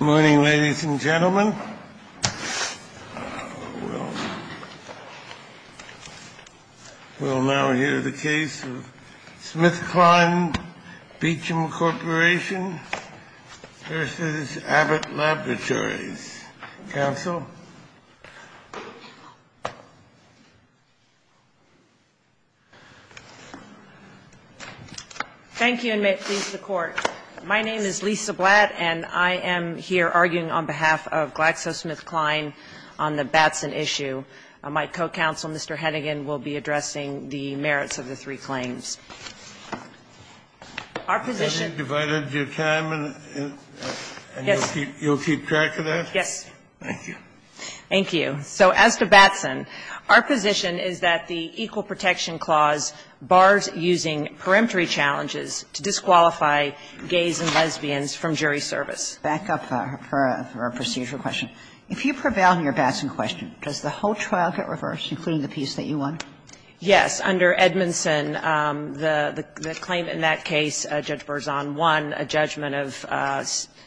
We'll now hear the case of Smithkline Beecham Corporation v. Abbott Laboratories. Counsel? Thank you, and may it please the Court. My name is Lisa Blatt, and I am here arguing on behalf of GlaxoSmithKline on the Batson issue. My co-counsel, Mr. Hennigan, will be addressing the merits of the three claims. Our position Is that you've divided your time and you'll keep track of that? Yes. Thank you. Thank you. So as to Batson, our position is that the Equal Protection Clause bars using perimetry challenges to disqualify gays and lesbians from jury service. Back up for a procedural question. If you prevail on your Batson question, does the whole trial get reversed, including the piece that you won? Yes. Under Edmondson, the claim in that case, Judge Berzon won a judgment of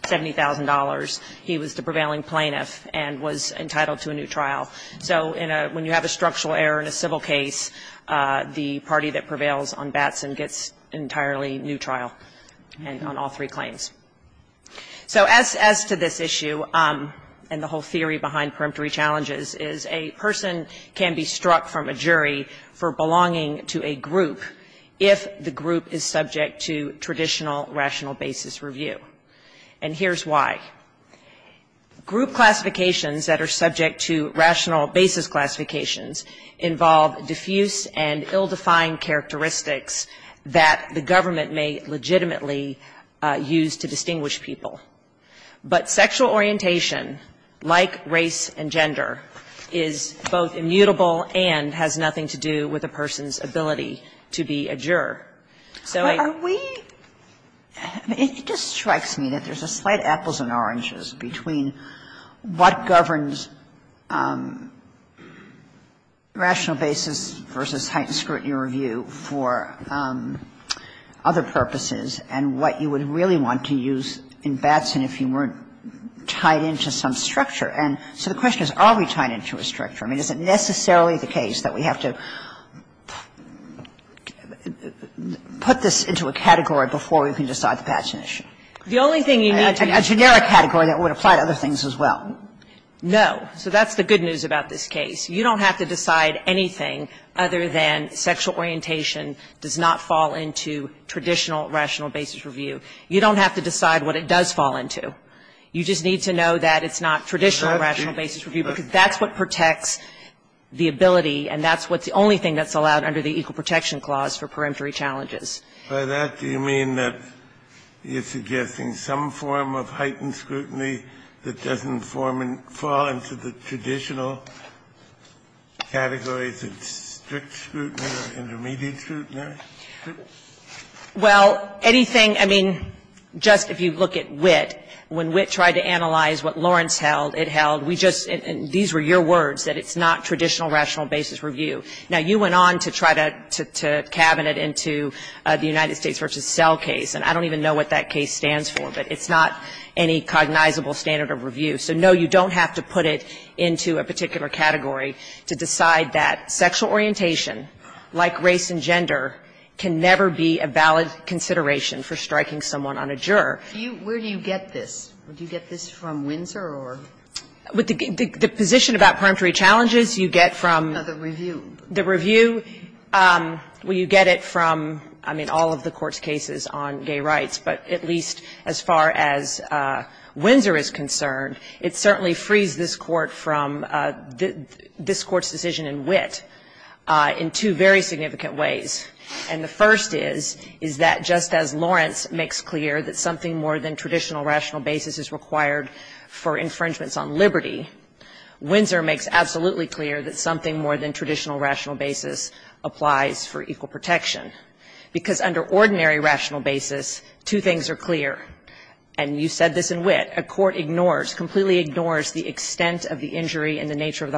$70,000. He was the prevailing plaintiff and was entitled to a new trial. So when you have a structural error in a civil case, the party that prevails on Batson gets entirely new trial on all three claims. So as to this issue and the whole theory behind perimetry challenges is a person can be struck from a jury for belonging to a group if the group is subject to traditional, rational basis review. And here's why. Group classifications that are subject to rational basis classifications involve diffuse and ill-defined characteristics that the government may legitimately use to distinguish people. But sexual orientation, like race and gender, is both immutable and has nothing to do with a person's ability to be a juror. But are we – I mean, it just strikes me that there's a slight apples and oranges between what governs rational basis versus heightened scrutiny review for other purposes and what you would really want to use in Batson if you weren't tied into some structure. And so the question is, are we tied into a structure? I mean, is it necessarily the case that we have to put this into a category before we can decide the Batson issue? A generic category that would apply to other things as well. No. So that's the good news about this case. You don't have to decide anything other than sexual orientation does not fall into traditional, rational basis review. You don't have to decide what it does fall into. You just need to know that it's not traditional, rational basis review, because that's what protects the ability, and that's what's the only thing that's allowed under the Equal Protection Clause for peremptory challenges. Kennedy, by that, do you mean that you're suggesting some form of heightened scrutiny that doesn't fall into the traditional categories of strict scrutiny or intermediate scrutiny? Well, anything, I mean, just if you look at WIT, when WIT tried to analyze what Lawrence held, it held, we just, these were your words, that it's not traditional, rational basis review. Now, you went on to try to cabin it into the United States v. Sell case, and I don't even know what that case stands for, but it's not any cognizable standard of review. So, no, you don't have to put it into a particular category to decide that sexual orientation, like race and gender, can never be a valid consideration for striking someone on a juror. Where do you get this? Do you get this from Windsor or? The position about peremptory challenges, you get from the review, you get it from, I mean, all of the Court's cases on gay rights, but at least as far as Windsor is concerned, it certainly frees this Court from this Court's decision in WIT. In two very significant ways, and the first is, is that just as Lawrence makes clear that something more than traditional rational basis is required for infringements on liberty, Windsor makes absolutely clear that something more than traditional rational basis applies for equal protection, because under ordinary rational basis, two things are clear, and you said this in WIT, a court ignores, completely ignores the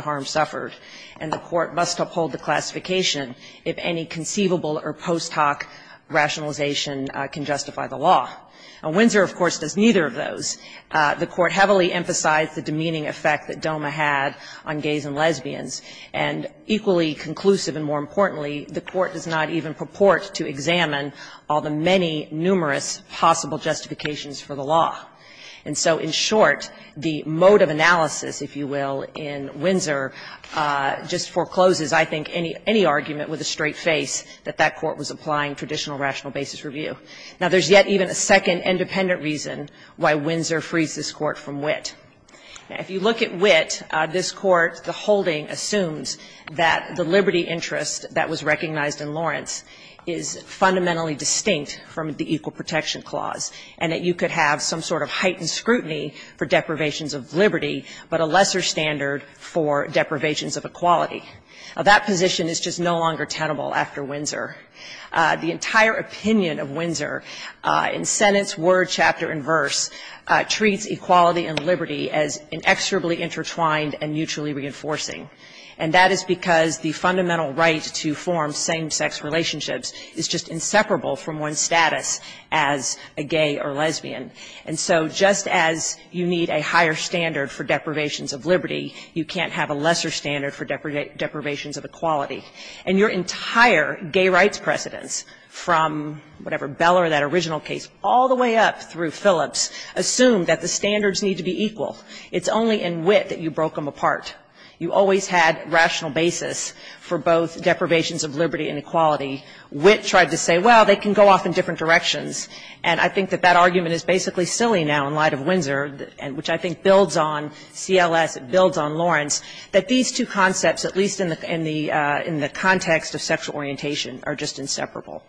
harm suffered, and the court must uphold the classification if any conceivable or post hoc rationalization can justify the law. Windsor, of course, does neither of those. The court heavily emphasized the demeaning effect that DOMA had on gays and lesbians, and equally conclusive and more importantly, the court does not even purport to examine all the many numerous possible justifications for the law. And so in short, the mode of analysis, if you will, in Windsor just forecloses, I think, any argument with a straight face that that court was applying traditional rational basis review. Now, there's yet even a second independent reason why Windsor frees this Court from WIT. If you look at WIT, this Court, the holding assumes that the liberty interest that was recognized in Lawrence is fundamentally distinct from the equal protection clause, and that you could have some sort of heightened scrutiny for deprivations of liberty, but a lesser standard for deprivations of equality. Now, that position is just no longer tenable after Windsor. The entire opinion of Windsor in sentence, word, chapter, and verse treats equality and liberty as inexorably intertwined and mutually reinforcing, and that is because the fundamental right to form same sex relationships is just inseparable from one's a gay or lesbian. And so just as you need a higher standard for deprivations of liberty, you can't have a lesser standard for deprivations of equality. And your entire gay rights precedents, from whatever, Beller, that original case, all the way up through Phillips, assumed that the standards need to be equal. It's only in WIT that you broke them apart. You always had rational basis for both deprivations of liberty and equality. WIT tried to say, well, they can go off in different directions. And I think that that argument is basically silly now in light of Windsor, which I think builds on CLS, it builds on Lawrence, that these two concepts, at least in the context of sexual orientation, are just inseparable.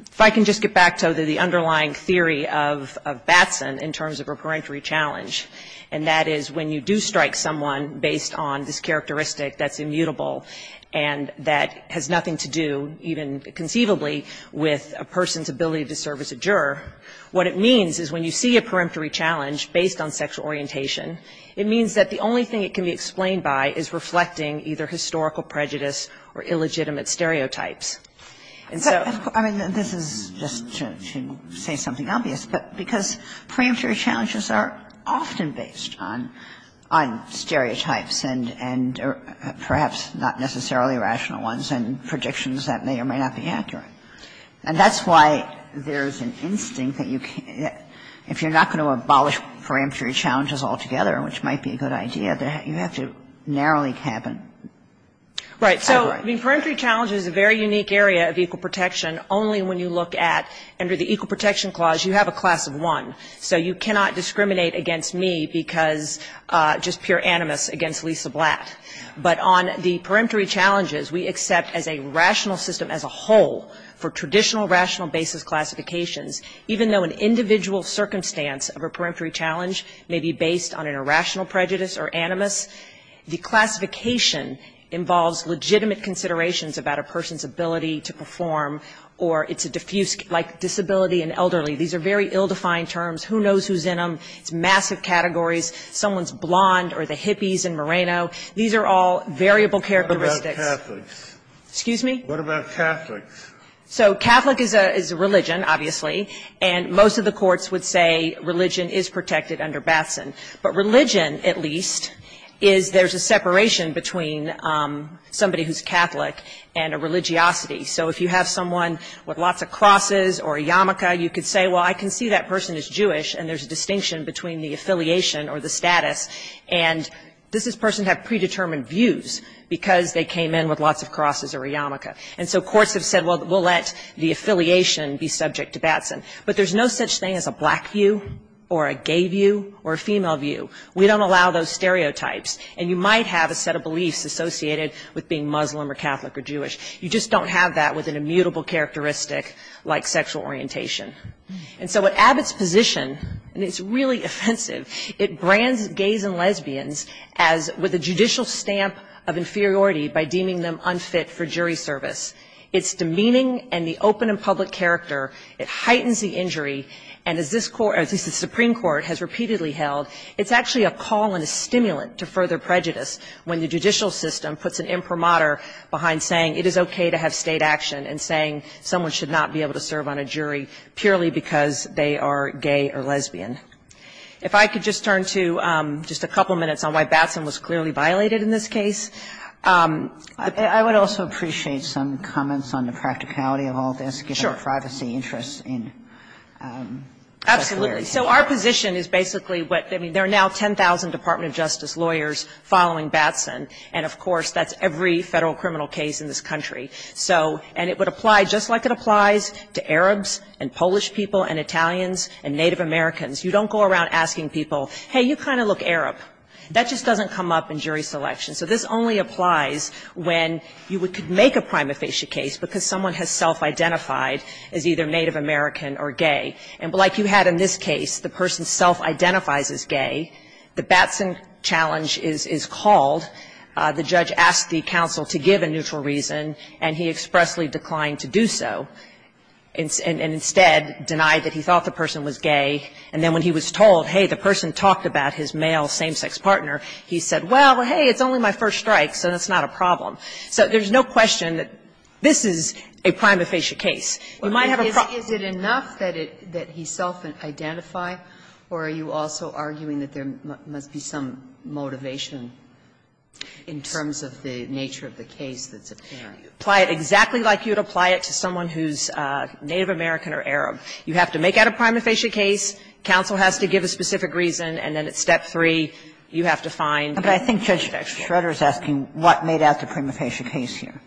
If I can just get back to the underlying theory of Batson in terms of a parentory challenge, and that is when you do strike someone based on this characteristic that's immutable and that has nothing to do, even conceivably, with a person's ability to serve as a juror, what it means is when you see a parentory challenge based on sexual orientation, it means that the only thing it can be explained by is reflecting either historical prejudice or illegitimate stereotypes. And so of course this is just to say something obvious, but because parentory challenges are often based on stereotypes and perhaps not necessarily rational ones and predictions that may or may not be accurate. And that's why there's an instinct that if you're not going to abolish parentory challenges altogether, which might be a good idea, you have to narrowly cap it. Right. So parentory challenge is a very unique area of equal protection only when you look at, under the Equal Protection Clause, you have a class of one. So you cannot discriminate against me because just pure animus against Lisa Blatt. But on the parentory challenges, we accept as a rational system as a whole for traditional rational basis classifications, even though an individual circumstance of a parentory challenge may be based on an irrational prejudice or animus, the classification involves legitimate considerations about a person's ability to perform or it's a diffuse, like disability and elderly. These are very ill-defined terms. Who knows who's in them? It's massive categories. Someone's blonde or the hippies in Moreno. These are all variable characteristics. What about Catholics? Excuse me? What about Catholics? So Catholic is a religion, obviously, and most of the courts would say religion is protected under Batson. But religion, at least, is there's a separation between somebody who's Catholic and a religiosity. So if you have someone with lots of crosses or a yarmulke, you could say, well, I can see that person is Jewish and there's a distinction between the affiliation or the status and does this person have predetermined views because they came in with lots of crosses or a yarmulke. And so courts have said, well, we'll let the affiliation be subject to Batson. But there's no such thing as a black view or a gay view or a female view. We don't allow those stereotypes. And you might have a set of beliefs associated with being Muslim or Catholic or Jewish. You just don't have that with an immutable characteristic like sexual orientation. And so what Abbott's position, and it's really offensive, it brands gays and lesbians as with a judicial stamp of inferiority by deeming them unfit for jury service. It's demeaning and the open and public character. It heightens the injury. And as this Supreme Court has repeatedly held, it's actually a call and a stimulant to further prejudice when the judicial system puts an imprimatur behind saying it is okay to have state action and saying someone should not be able to serve on a jury purely because they are gay or lesbian. If I could just turn to just a couple of minutes on why Batson was clearly violated in this case. I would also appreciate some comments on the practicality of all this. Sure. Privacy interests in. Absolutely. So our position is basically what, I mean, there are now 10,000 Department of Justice lawyers following Batson. And, of course, that's every Federal criminal case in this country. So, and it would apply just like it applies to Arabs and Polish people and Italians and Native Americans. You don't go around asking people, hey, you kind of look Arab. That just doesn't come up in jury selection. So this only applies when you could make a prima facie case because someone has self-identified as either Native American or gay. And like you had in this case, the person self-identifies as gay. The Batson challenge is called. The judge asked the counsel to give a neutral reason, and he expressly declined to do so, and instead denied that he thought the person was gay. And then when he was told, hey, the person talked about his male same-sex partner, he said, well, hey, it's only my first strike, so that's not a problem. So there's no question that this is a prima facie case. You might have a problem. Sotomayor, is it enough that he self-identify, or are you also arguing that there must be some motivation in terms of the nature of the case that's apparent? You apply it exactly like you would apply it to someone who's Native American or Arab. You have to make out a prima facie case, counsel has to give a specific reason, and then at Step 3, you have to find the connection. But I think Judge Schroeder is asking what made out the prima facie case here.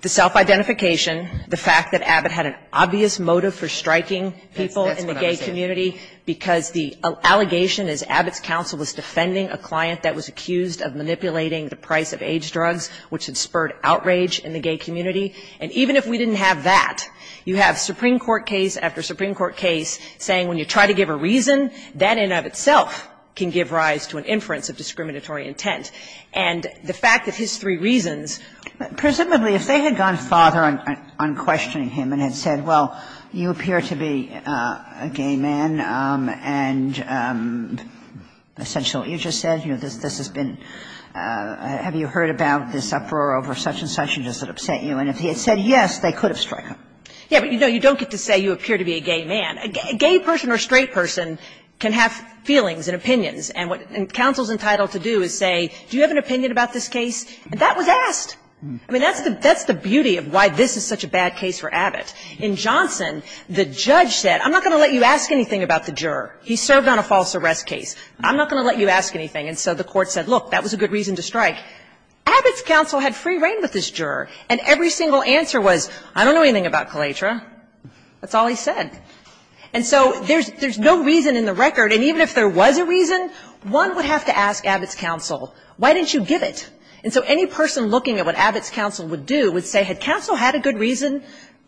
The self-identification, the fact that Abbott had an obvious motive for striking people in the gay community, because the allegation is Abbott's counsel was defending a client that was accused of manipulating the price of AIDS drugs, which had spurred outrage in the gay community. And even if we didn't have that, you have Supreme Court case after Supreme Court case saying when you try to give a reason, that in and of itself can give rise to an inference of discriminatory intent. And the fact that his three reasons. Kagan. Presumably, if they had gone farther on questioning him and had said, well, you appear to be a gay man and essentially what you just said, you know, this has been, have you heard about this uproar over such-and-such and does it upset you? And if he had said yes, they could have struck him. Yeah, but you don't get to say you appear to be a gay man. A gay person or straight person can have feelings and opinions. And what counsel is entitled to do is say, do you have an opinion about this case? And that was asked. I mean, that's the beauty of why this is such a bad case for Abbott. In Johnson, the judge said, I'm not going to let you ask anything about the juror. He served on a false arrest case. I'm not going to let you ask anything. And so the court said, look, that was a good reason to strike. Abbott's counsel had free reign with this juror. And every single answer was, I don't know anything about Kalatra. That's all he said. And so there's no reason in the record. And even if there was a reason, one would have to ask Abbott's counsel, why didn't you give it? And so any person looking at what Abbott's counsel would do would say, had counsel had a good reason,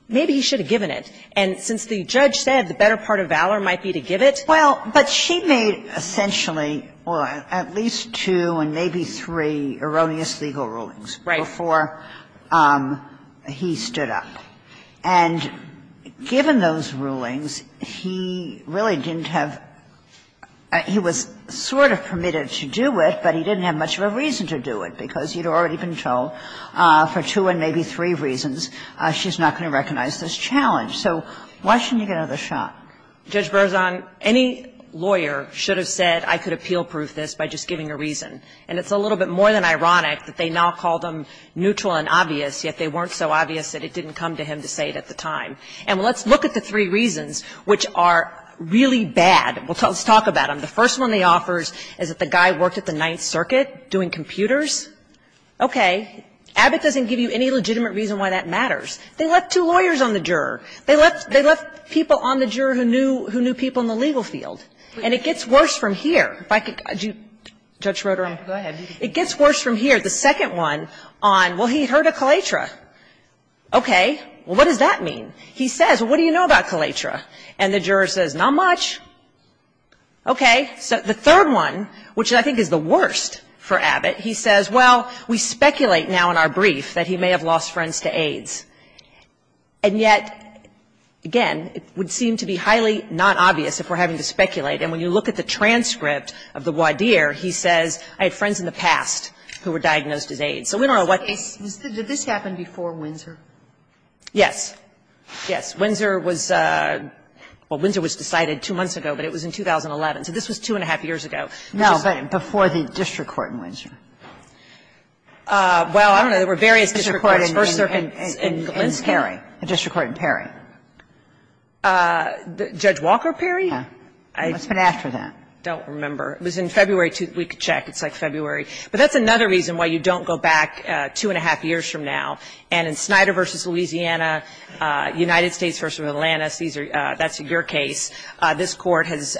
maybe he should have given it. And since the judge said the better part of valor might be to give it. Well, but she made essentially, or at least two and maybe three erroneous legal rulings before he stood up. Right. And given those rulings, he really didn't have – he was sort of permitted to do it, but he didn't have much of a reason to do it, because he'd already been told for two and maybe three reasons she's not going to recognize this challenge. So why shouldn't he get another shot? Judge Berzon, any lawyer should have said, I could appeal-proof this by just giving a reason. And it's a little bit more than ironic that they now call them neutral and obvious, yet they weren't so obvious that it didn't come to him to say it at the time. And let's look at the three reasons which are really bad. Let's talk about them. The first one he offers is that the guy worked at the Ninth Circuit doing computers. Okay. Abbott doesn't give you any legitimate reason why that matters. They left two lawyers on the juror. They left people on the juror who knew people in the legal field. And it gets worse from here. If I could – Judge Rotherham. It gets worse from here. The second one on, well, he heard of Kalatra. Okay. Well, what does that mean? He says, well, what do you know about Kalatra? And the juror says, not much. Okay. The third one, which I think is the worst for Abbott, he says, well, we speculate now in our brief that he may have lost friends to AIDS. And yet, again, it would seem to be highly not obvious if we're having to speculate. And when you look at the transcript of the voir dire, he says, I had friends in the past who were diagnosed as AIDS. So we don't know what – Did this happen before Windsor? Yes. Yes. Windsor was – well, Windsor was decided two months ago, but it was in 2011. So this was two and a half years ago. No, but before the district court in Windsor. Well, I don't know. There were various district courts. First Circuit in Glenski. The district court in Perry. Judge Walker Perry? Yeah. What's been after that? I don't remember. It was in February. We could check. It's like February. But that's another reason why you don't go back two and a half years from now. And in Snyder v. Louisiana, United States v. Atlantis, these are – that's your case. This Court has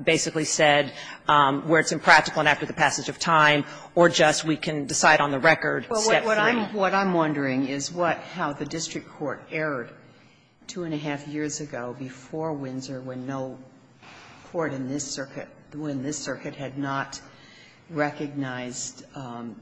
basically said where it's impractical and after the passage of time or just we can decide on the record, step three. Well, what I'm wondering is what – how the district court erred two and a half years ago before Windsor when no court in this circuit – when this circuit had not recognized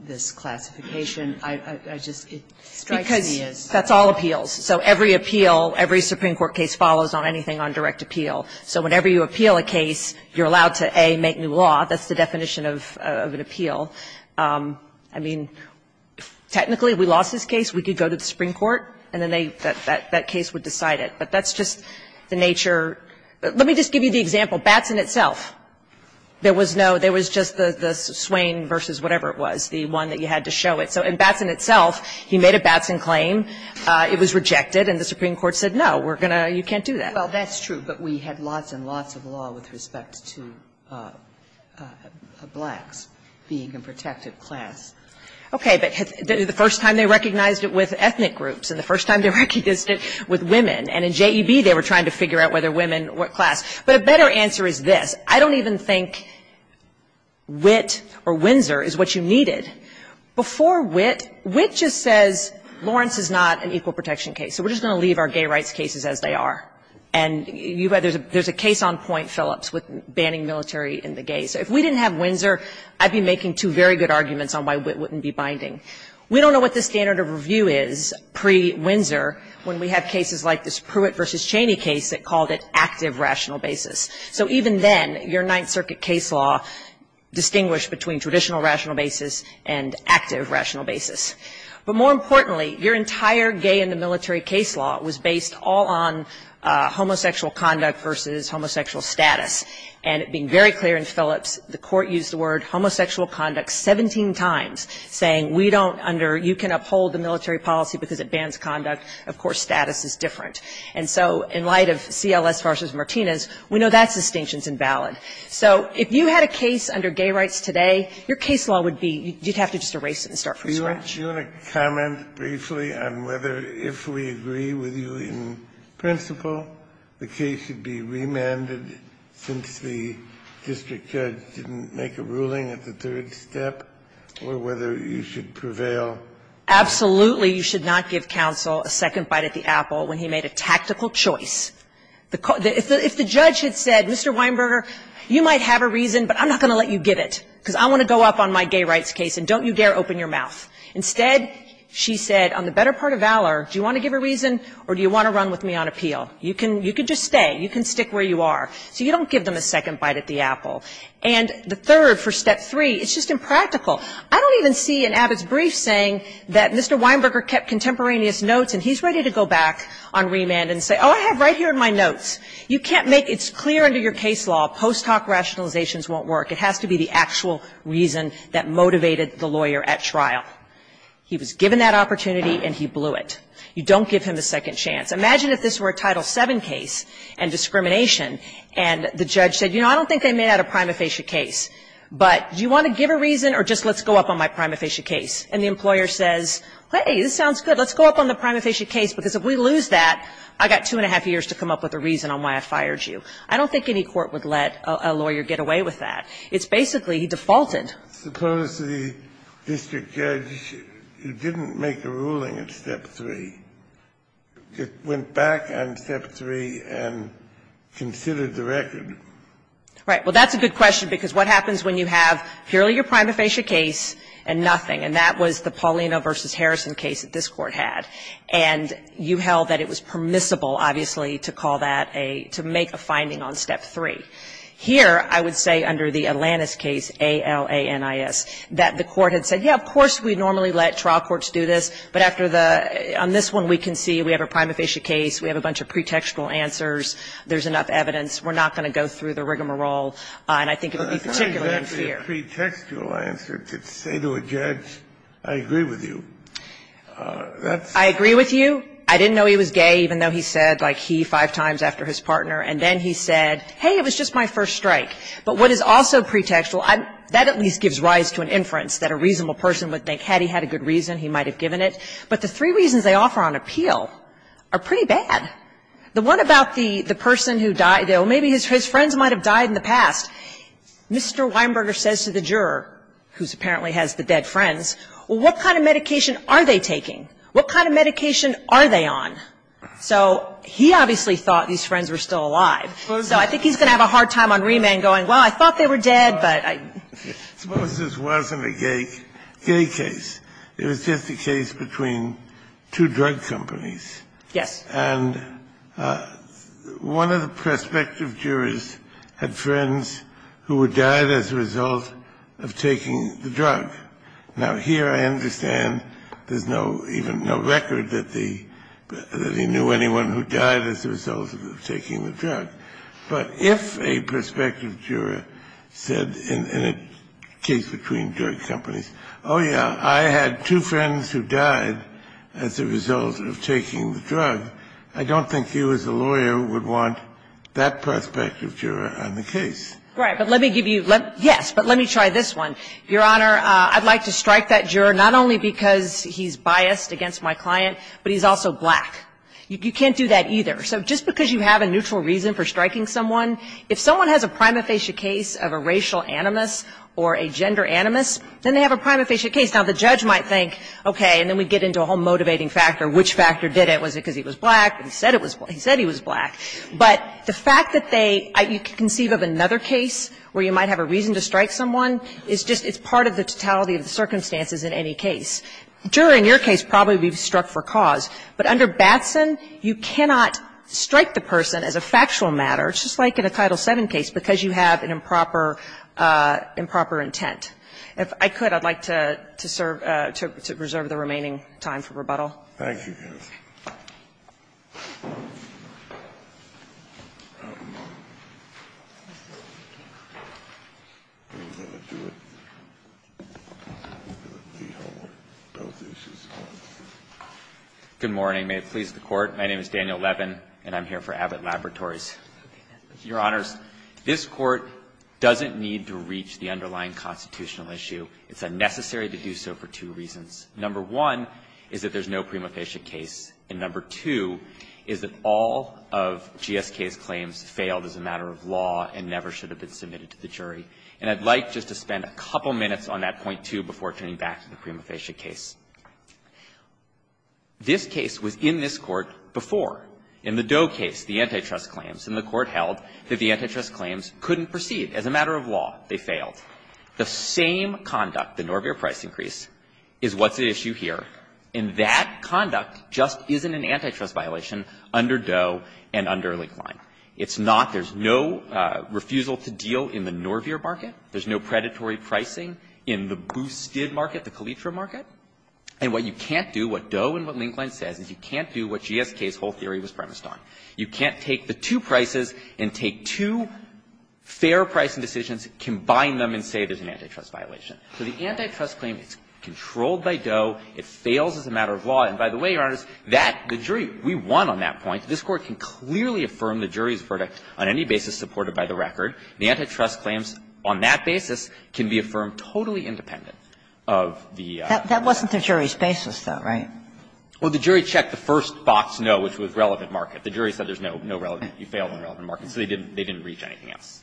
this classification. I just – it strikes me as – Because that's all appeals. So every appeal, every Supreme Court case follows on anything on direct appeal. So whenever you appeal a case, you're allowed to, A, make new law. That's the definition of an appeal. I mean, technically, if we lost this case, we could go to the Supreme Court and then they – that case would decide it. But that's just the nature – let me just give you the example. Batson itself, there was no – there was just the Swain v. whatever it was, the one that you had to show it. So in Batson itself, he made a Batson claim. It was rejected. And the Supreme Court said, no, we're going to – you can't do that. Well, that's true. But we had lots and lots of law with respect to blacks being a protected class. Okay. But the first time they recognized it with ethnic groups and the first time they recognized it with women. And in JEB, they were trying to figure out whether women were class. But a better answer is this. I don't even think WIT or Windsor is what you needed. Before WIT, WIT just says Lawrence is not an equal protection case. So we're just going to leave our gay rights cases as they are. And you – there's a case on point, Phillips, with banning military and the gays. If we didn't have Windsor, I'd be making two very good arguments on why WIT wouldn't be binding. We don't know what the standard of review is pre-Windsor when we have cases like this Pruitt v. Cheney case that called it active rational basis. So even then, your Ninth Circuit case law distinguished between traditional rational basis and active rational basis. But more importantly, your entire gay in the military case law was based all on homosexual conduct versus homosexual status. And it being very clear in Phillips, the court used the word homosexual conduct 17 times, saying we don't under – you can uphold the military policy because it bans conduct. Of course, status is different. And so in light of CLS v. Martinez, we know that distinction is invalid. So if you had a case under gay rights today, your case law would be – you'd have to just erase it and start from scratch. Do you want to comment briefly on whether, if we agree with you in principle, the case should be remanded since the district judge didn't make a ruling at the third step, or whether you should prevail? Absolutely, you should not give counsel a second bite at the apple when he made a tactical choice. If the judge had said, Mr. Weinberger, you might have a reason, but I'm not going to let you give it because I want to go up on my gay rights case, and don't you dare open your mouth, instead, she said, on the better part of valor, do you want to give a reason or do you want to run with me on appeal? You can just stay. You can stick where you are. So you don't give them a second bite at the apple. And the third, for step three, it's just impractical. I don't even see in Abbott's brief saying that Mr. Weinberger kept contemporaneous notes and he's ready to go back on remand and say, oh, I have right here in my notes. You can't make – it's clear under your case law, post hoc rationalizations won't work. It has to be the actual reason that motivated the lawyer at trial. He was given that opportunity and he blew it. You don't give him a second chance. Imagine if this were a Title VII case and discrimination, and the judge said, you know, I don't think they made out a prima facie case, but do you want to give a reason or just let's go up on my prima facie case? And the employer says, hey, this sounds good. Let's go up on the prima facie case, because if we lose that, I've got two and a half years to come up with a reason on why I fired you. I don't think any court would let a lawyer get away with that. It's basically, he defaulted. Suppose the district judge didn't make a ruling at step three, went back on step three and considered the record. Right. Well, that's a good question, because what happens when you have purely your prima facie case and nothing? And that was the Paulino v. Harrison case that this Court had. And you held that it was permissible, obviously, to call that a – to make a finding on step three. Here, I would say under the Atlantis case, A-L-A-N-I-S, that the Court had said, yes, of course we normally let trial courts do this, but after the – on this one, we can see we have a prima facie case. We have a bunch of pretextual answers. There's enough evidence. We're not going to go through the rigmarole, and I think it would be particularly unfair. But I think that's a pretextual answer to say to a judge, I agree with you. That's the question. I agree with you. I didn't know he was gay, even though he said, like, he, five times after his partner. And then he said, hey, it was just my first strike. But what is also pretextual, that at least gives rise to an inference that a reasonable person would think, had he had a good reason, he might have given it. But the three reasons they offer on appeal are pretty bad. The one about the person who died, well, maybe his friends might have died in the past. Mr. Weinberger says to the juror, who apparently has the dead friends, well, what kind of medication are they taking? What kind of medication are they on? So he obviously thought these friends were still alive. So I think he's going to have a hard time on remand going, well, I thought they were dead, but I don't know. This wasn't a gay case. It was just a case between two drug companies. Yes. And one of the prospective jurors had friends who died as a result of taking the drug. Now, here I understand there's no record that he knew anyone who died as a result of taking the drug. But if a prospective juror said in a case between drug companies, oh, yeah, I had two friends who died as a result of taking the drug, I don't think you as a lawyer would want that prospective juror on the case. Right. But let me give you the other one. Yes. But let me try this one. Your Honor, I'd like to strike that juror not only because he's biased against my client, but he's also black. You can't do that either. So just because you have a neutral reason for striking someone, if someone has a primifacious case of a racial animus or a gender animus, then they have a primifacious case. Now, the judge might think, okay, and then we get into a whole motivating factor, which factor did it? Was it because he was black? He said he was black. But the fact that they you can conceive of another case where you might have a reason to strike someone, it's just it's part of the totality of the circumstances in any case. The juror in your case probably would be struck for cause. But under Batson, you cannot strike the person as a factual matter, just like in a Title VII case, because you have an improper intent. If I could, I'd like to serve to reserve the remaining time for rebuttal. Thank you, counsel. Good morning. May it please the Court. My name is Daniel Levin, and I'm here for Abbott Laboratories. Your Honors, this Court doesn't need to reach the underlying constitutional issue. It's unnecessary to do so for two reasons. Number one is that there's no prima facie case, and number two is that all of GSK's claims failed as a matter of law and never should have been submitted to the jury. And I'd like just to spend a couple minutes on that point, too, before turning back to the prima facie case. This case was in this Court before. In the Doe case, the antitrust claims, and the Court held that the antitrust claims couldn't proceed. As a matter of law, they failed. The same conduct, the Norveer price increase, is what's at issue here, and that conduct just isn't an antitrust violation under Doe and under Linkline. It's not. There's no refusal to deal in the Norveer market. There's no predatory pricing in the Boosted market, the Calitra market. And what you can't do, what Doe and what Linkline says, is you can't do what GSK's whole theory was premised on. You can't take the two prices and take two fair pricing decisions, combine them in and say there's an antitrust violation. So the antitrust claim, it's controlled by Doe. It fails as a matter of law. And by the way, Your Honors, that, the jury, we won on that point. This Court can clearly affirm the jury's verdict on any basis supported by the record. The antitrust claims on that basis can be affirmed totally independent of the market. That wasn't the jury's basis, though, right? Well, the jury checked the first box, no, which was relevant market. The jury said there's no relevant, you failed on relevant market. So they didn't reach anything else.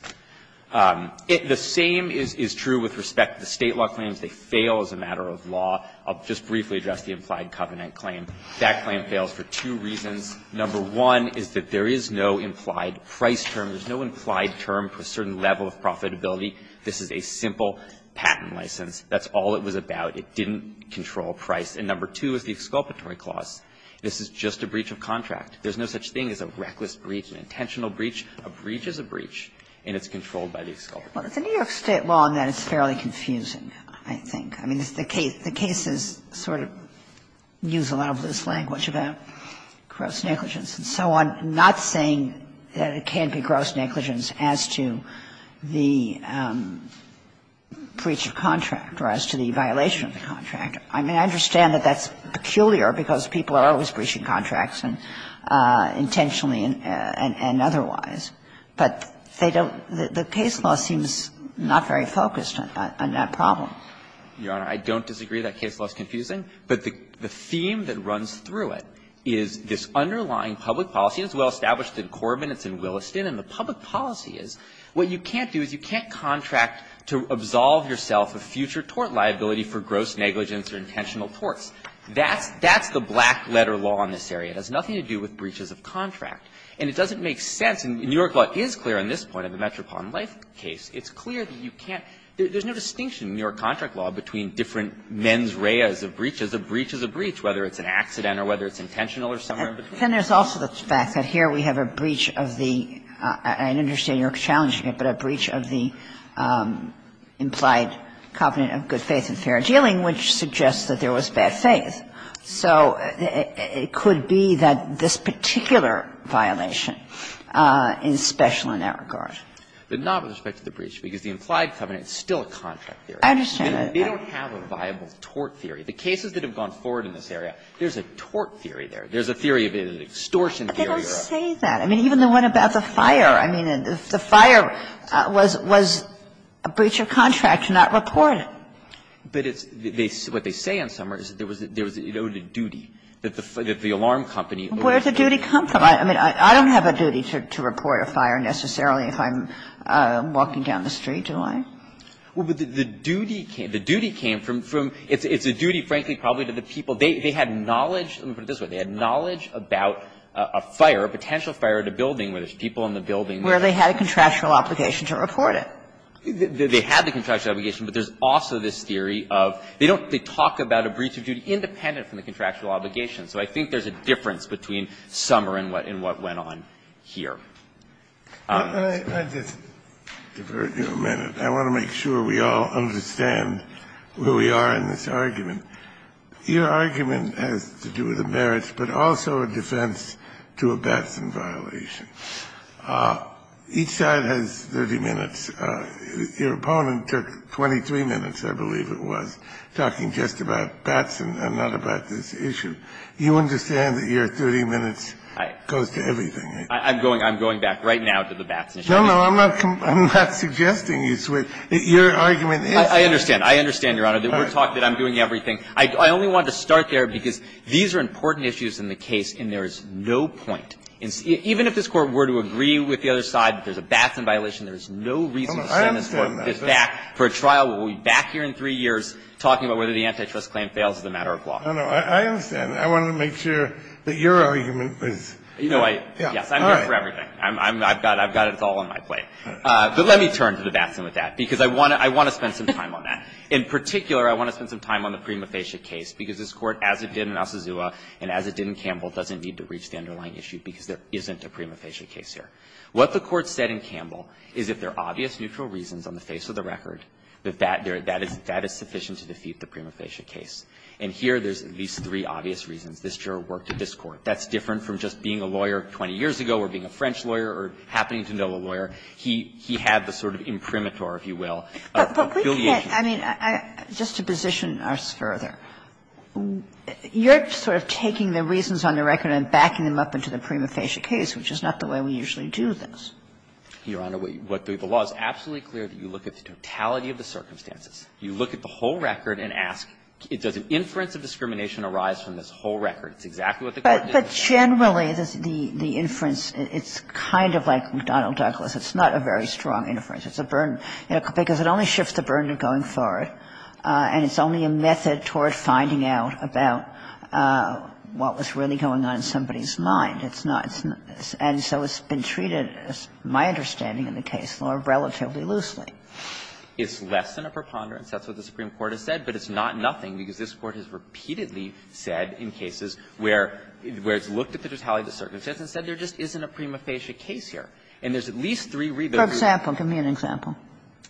The same is true with respect to the State law claims. They fail as a matter of law. I'll just briefly address the implied covenant claim. That claim fails for two reasons. Number one is that there is no implied price term. There's no implied term for a certain level of profitability. This is a simple patent license. That's all it was about. It didn't control price. And number two is the exculpatory clause. This is just a breach of contract. There's no such thing as a reckless breach, an intentional breach. A breach is a breach. And it's controlled by the exculpatory clause. Well, it's a New York State law, and that is fairly confusing, I think. I mean, the cases sort of use a lot of loose language about gross negligence and so on, not saying that it can't be gross negligence as to the breach of contract or as to the violation of the contract. I mean, I understand that that's peculiar because people are always breaching contracts intentionally and otherwise. But they don't – the case law seems not very focused on that problem. Your Honor, I don't disagree that case law is confusing. But the theme that runs through it is this underlying public policy. It's well-established in Corbin, it's in Williston, and the public policy is what you can't do is you can't contract to absolve yourself of future tort liability for gross negligence or intentional torts. That's the black-letter law in this area. It has nothing to do with breaches of contract. And it doesn't make sense – and New York law is clear on this point of the Metropolitan Life case. It's clear that you can't – there's no distinction in New York contract law between different mens rea as a breach, as a breach as a breach, whether it's an accident or whether it's intentional or somewhere in between. Kagan. And there's also the fact that here we have a breach of the – I understand you're challenging it, but a breach of the implied covenant of good faith and fair dealing, which suggests that there was bad faith. So it could be that this particular violation is special in that regard. But not with respect to the breach, because the implied covenant is still a contract theory. I understand that. They don't have a viable tort theory. The cases that have gone forward in this area, there's a tort theory there. There's a theory of an extortion theory. But they don't say that. I mean, even the one about the fire. I mean, the fire was a breach of contract, not reported. But it's – what they say in Summers is that it owed a duty, that the alarm company owed a duty. Where did the duty come from? I mean, I don't have a duty to report a fire necessarily if I'm walking down the street, do I? Well, but the duty came from – it's a duty, frankly, probably to the people. They had knowledge – let me put it this way. They had knowledge about a fire, a potential fire at a building where there's people in the building. Where they had a contractual obligation to report it. They had the contractual obligation, but there's also this theory of – they don't – they talk about a breach of duty independent from the contractual obligation. So I think there's a difference between Summer and what went on here. Kennedy, I want to make sure we all understand where we are in this argument. Your argument has to do with the merits, but also a defense to a Batson violation. Each side has 30 minutes. Your opponent took 23 minutes, I believe it was, talking just about Batson and not about this issue. You understand that your 30 minutes goes to everything. I'm going back right now to the Batson issue. No, no. I'm not suggesting you switch. Your argument is that. I understand. I understand, Your Honor, that we're talking – that I'm doing everything. I only wanted to start there because these are important issues in the case and there is no point in – even if this Court were to say, well, we're going to do this, even if this Court were to agree with the other side that there's a Batson violation, there's no reason to send this Court back for a trial. We'll be back here in three years talking about whether the antitrust claim fails as a matter of law. No, no. I understand. I wanted to make sure that your argument was – You know, I – yes, I'm here for everything. I've got it all on my plate. But let me turn to the Batson with that, because I want to spend some time on that. In particular, I want to spend some time on the Prima Facie case, because this Court, as it did in Osazua and as it did in Campbell, doesn't need to reach the underlying issue because there isn't a Prima Facie case here. What the Court said in Campbell is if there are obvious neutral reasons on the face of the record, that that – that is sufficient to defeat the Prima Facie case. And here, there's at least three obvious reasons. This juror worked at this Court. That's different from just being a lawyer 20 years ago or being a French lawyer or happening to know a lawyer. He had the sort of imprimatur, if you will, of affiliation. But we can't – I mean, just to position us further, you're sort of taking the reasons on the record and backing them up into the Prima Facie case, which is not the way we usually do this. Your Honor, what the law is absolutely clear that you look at the totality of the circumstances. You look at the whole record and ask, does an inference of discrimination arise from this whole record? It's exactly what the Court did. But generally, the inference, it's kind of like McDonnell-Douglas. It's not a very strong inference. It's a burden, because it only shifts the burden going forward, and it's only a method toward finding out about what was really going on in somebody's mind. It's not – and so it's been treated, as my understanding in the case, relatively loosely. It's less than a preponderance. That's what the Supreme Court has said. But it's not nothing, because this Court has repeatedly said in cases where it's looked at the totality of the circumstances and said there just isn't a Prima Facie case here. And there's at least three reasons. For example, give me an example.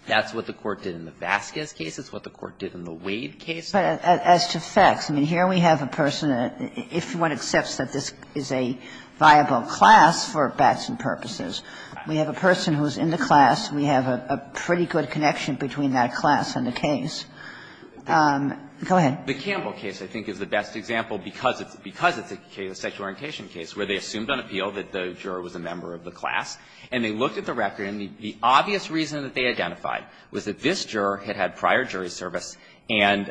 That's what the Court did in the Vasquez case. It's what the Court did in the Wade case. But as to facts, I mean, here we have a person that, if one accepts that this is a viable class for bats and purposes, we have a person who is in the class. We have a pretty good connection between that class and the case. Go ahead. The Campbell case, I think, is the best example, because it's a case, a sexual orientation case, where they assumed on appeal that the juror was a member of the class, and they looked at the record, and the obvious reason that they identified was that this juror had had prior jury service, and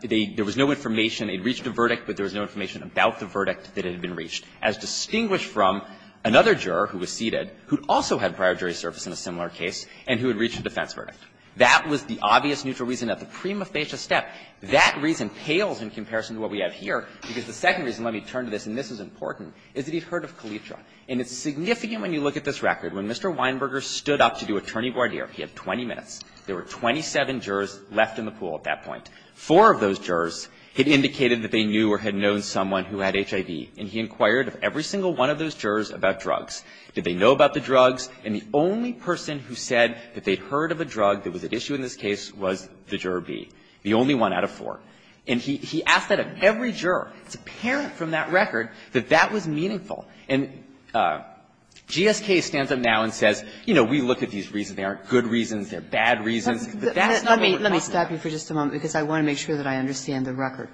they – there was no information – they had reached a verdict, but there was no information about the verdict that had been reached, as distinguished from another juror who was seated, who also had prior jury service in a similar case, and who had reached a defense verdict. That was the obvious neutral reason at the Prima Facie step. That reason pales in comparison to what we have here, because the second reason – let me turn to this, and this is important – is that he had heard of Kalitra. And it's significant when you look at this record. When Mr. Weinberger stood up to do attorney voir dire, he had 20 minutes. There were 27 jurors left in the pool at that point. Four of those jurors had indicated that they knew or had known someone who had HIV, and he inquired of every single one of those jurors about drugs. Did they know about the drugs? And the only person who said that they had heard of a drug that was at issue in this case was the juror B, the only one out of four. And he asked that of every juror. It's apparent from that record that that was meaningful. And GSK stands up now and says, you know, we look at these reasons. They aren't good reasons. They're bad reasons. But that's not what we're talking about. Kagan. Let me stop you for just a moment, because I want to make sure that I understand the record.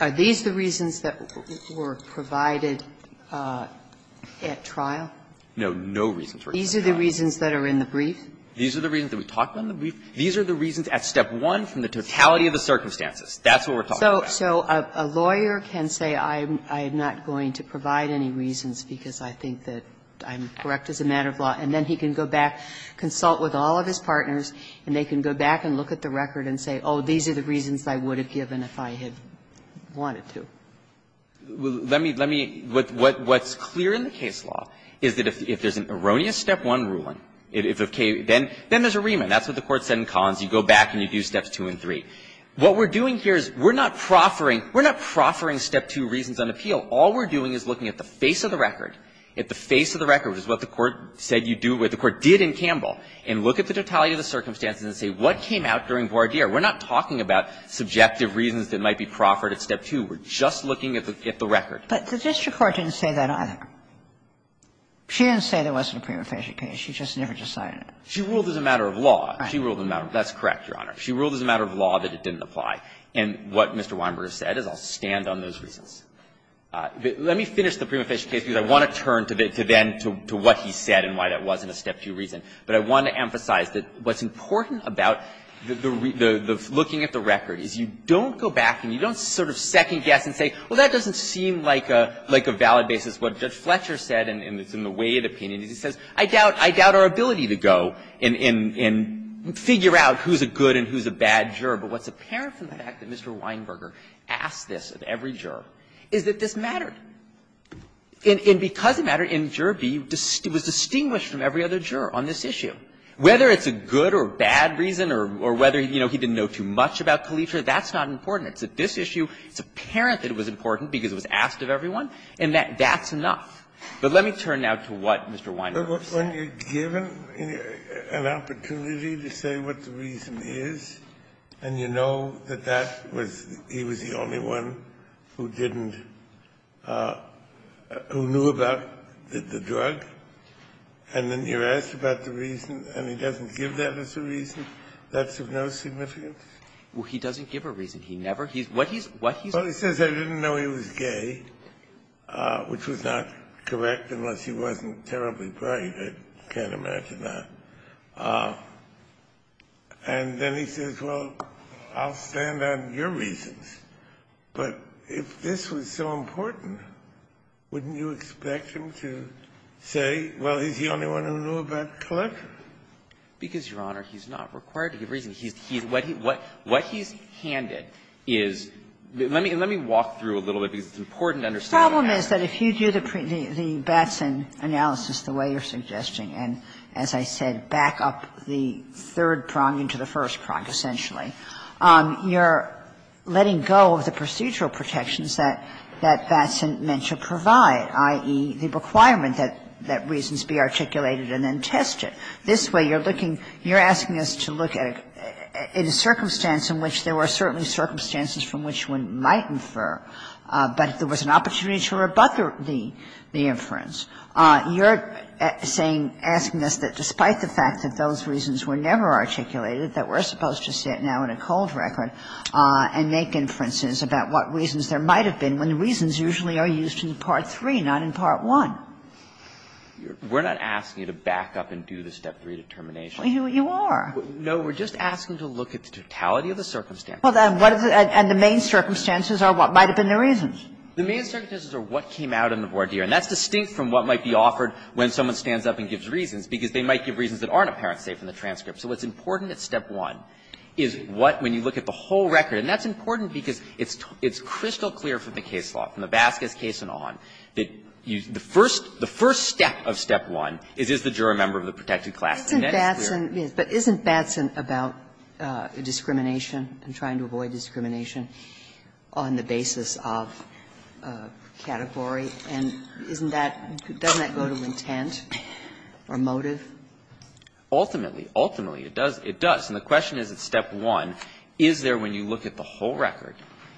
Are these the reasons that were provided at trial? No. No reasons were provided. These are the reasons that are in the brief? These are the reasons that we talked about in the brief. These are the reasons at step one from the totality of the circumstances. That's what we're talking about. So a lawyer can say, I'm not going to provide any reasons because I think that I'm correct as a matter of law, and then he can go back, consult with all of his partners, and they can go back and look at the record and say, oh, these are the reasons I would have given if I had wanted to. Let me what's clear in the case law is that if there's an erroneous step one ruling, then there's a remand. That's what the Court said in Collins. You go back and you do steps two and three. What we're doing here is we're not proffering, we're not proffering step two reasons on appeal. All we're doing is looking at the face of the record, at the face of the record, which is what the Court said you do, what the Court did in Campbell, and look at the totality of the circumstances and say what came out during voir dire. We're not talking about subjective reasons that might be proffered at step two. We're just looking at the record. But the district court didn't say that either. She didn't say there wasn't a prima facie case. She just never decided it. She ruled as a matter of law. She ruled as a matter of law. That's correct, Your Honor. She ruled as a matter of law that it didn't apply. And what Mr. Weinberger said is I'll stand on those reasons. Let me finish the prima facie case, because I want to turn to then to what he said and why that wasn't a step two reason. But I want to emphasize that what's important about the looking at the record is you don't go back and you don't sort of second-guess and say, well, that doesn't seem like a valid basis. What Judge Fletcher said, and it's in the way of the opinion, is he says, I doubt I doubt our ability to go and figure out who's a good and who's a bad juror. But what's apparent from the fact that Mr. Weinberger asked this of every juror is that this mattered. And because it mattered, and juror B was distinguished from every other juror on this issue. Whether it's a good or bad reason or whether, you know, he didn't know too much about Kalischer, that's not important. It's that this issue, it's apparent that it was important because it was asked of everyone, and that's enough. But let me turn now to what Mr. Weinberger said. When you're given an opportunity to say what the reason is, and you know that that was he was the only one who didn't, who knew about the drug, and then you're asked about the reason, and he doesn't give that as a reason, that's of no significance? Well, he doesn't give a reason. He never he's what he's what he's Well, he says, I didn't know he was gay, which was not correct unless he wasn't terribly bright. I can't imagine that. And then he says, well, I'll stand on your reasons. But if this was so important, wouldn't you expect him to say, well, he's the only one who knew about Kalischer? Because, Your Honor, he's not required to give a reason. He's he's what he what what he's handed is, let me let me walk through a little bit because it's important to understand. The problem is that if you do the the Batson analysis the way you're suggesting, and as I said, back up the third prong into the first prong, essentially, you're letting go of the procedural protections that that Batson meant to provide, i.e., the requirement that that reasons be articulated and then tested. This way, you're looking you're asking us to look at it in a circumstance in which there were certainly circumstances from which one might infer, but if there was an opportunity to rebut the the inference, you're saying, asking us that despite the fact that those reasons were never articulated, that we're supposed to sit now in a cold record and make inferences about what reasons there might have been when the reasons usually are used in Part III, not in Part I. We're not asking you to back up and do the Step 3 determination. You are. No, we're just asking to look at the totality of the circumstances. Well, then what is it and the main circumstances are what might have been the reasons? The main circumstances are what came out in the voir dire, and that's distinct from what might be offered when someone stands up and gives reasons, because they might give reasons that aren't apparent, say, from the transcript. So what's important at Step 1 is what, when you look at the whole record, and that's important because it's crystal clear from the case law, from the Vasquez case and on, that the first step of Step 1 is, is the juror a member of the protected class, and that is clear. But isn't Batson about discrimination and trying to avoid discrimination on the basis of category? And isn't that doesn't that go to intent or motive? Ultimately. Ultimately, it does. It does. And the question is at Step 1, is there, when you look at the whole record,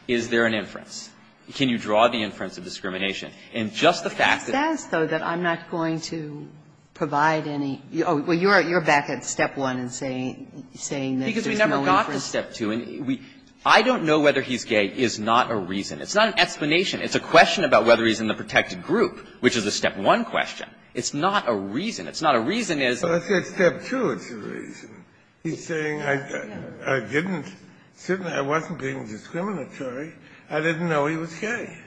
is there an inference? Can you draw the inference of discrimination? And just the fact that the It says, though, that I'm not going to provide any. Well, you're back at Step 1 and saying that there's no inference. Because we never got to Step 2. And we, I don't know whether he's gay is not a reason. It's not an explanation. It's a question about whether he's in the protected group, which is a Step 1 question. It's not a reason. It's not a reason as Well, I said Step 2 is a reason. He's saying I didn't, certainly I wasn't being discriminatory. I didn't know he was gay.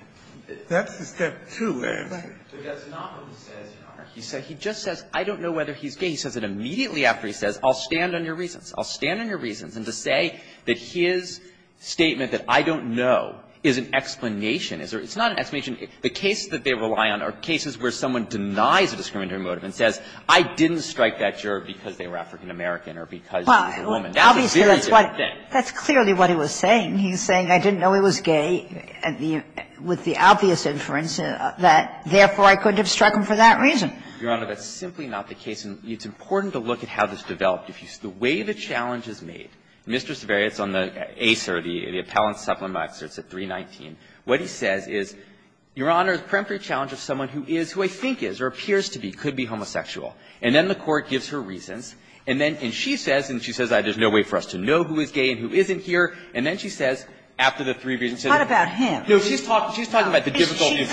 That's the Step 2 answer. But that's not what he says, Your Honor. He says, he just says, I don't know whether he's gay. He says it immediately after he says, I'll stand on your reasons. I'll stand on your reasons. And to say that his statement that I don't know is an explanation, it's not an explanation. The cases that they rely on are cases where someone denies a discriminatory motive and says, I didn't strike that gerb because they were African-American or because he was a woman. That's a very different thing. That's clearly what he was saying. He's saying I didn't know he was gay with the obvious inference that, therefore, I couldn't have struck him for that reason. Your Honor, that's simply not the case. And it's important to look at how this developed. If you see the way the challenge is made, Mr. Saverio, it's on the ACER, the Appellant Supplement, it's at 319. What he says is, Your Honor, the preemptory challenge of someone who is, who I think is, or appears to be, could be homosexual. And then the Court gives her reasons, and then she says, and she says, there's no way for us to know who is gay and who isn't here, and then she says, after the three reasons. Sotomayor, what about him? She's talking about the difficulty of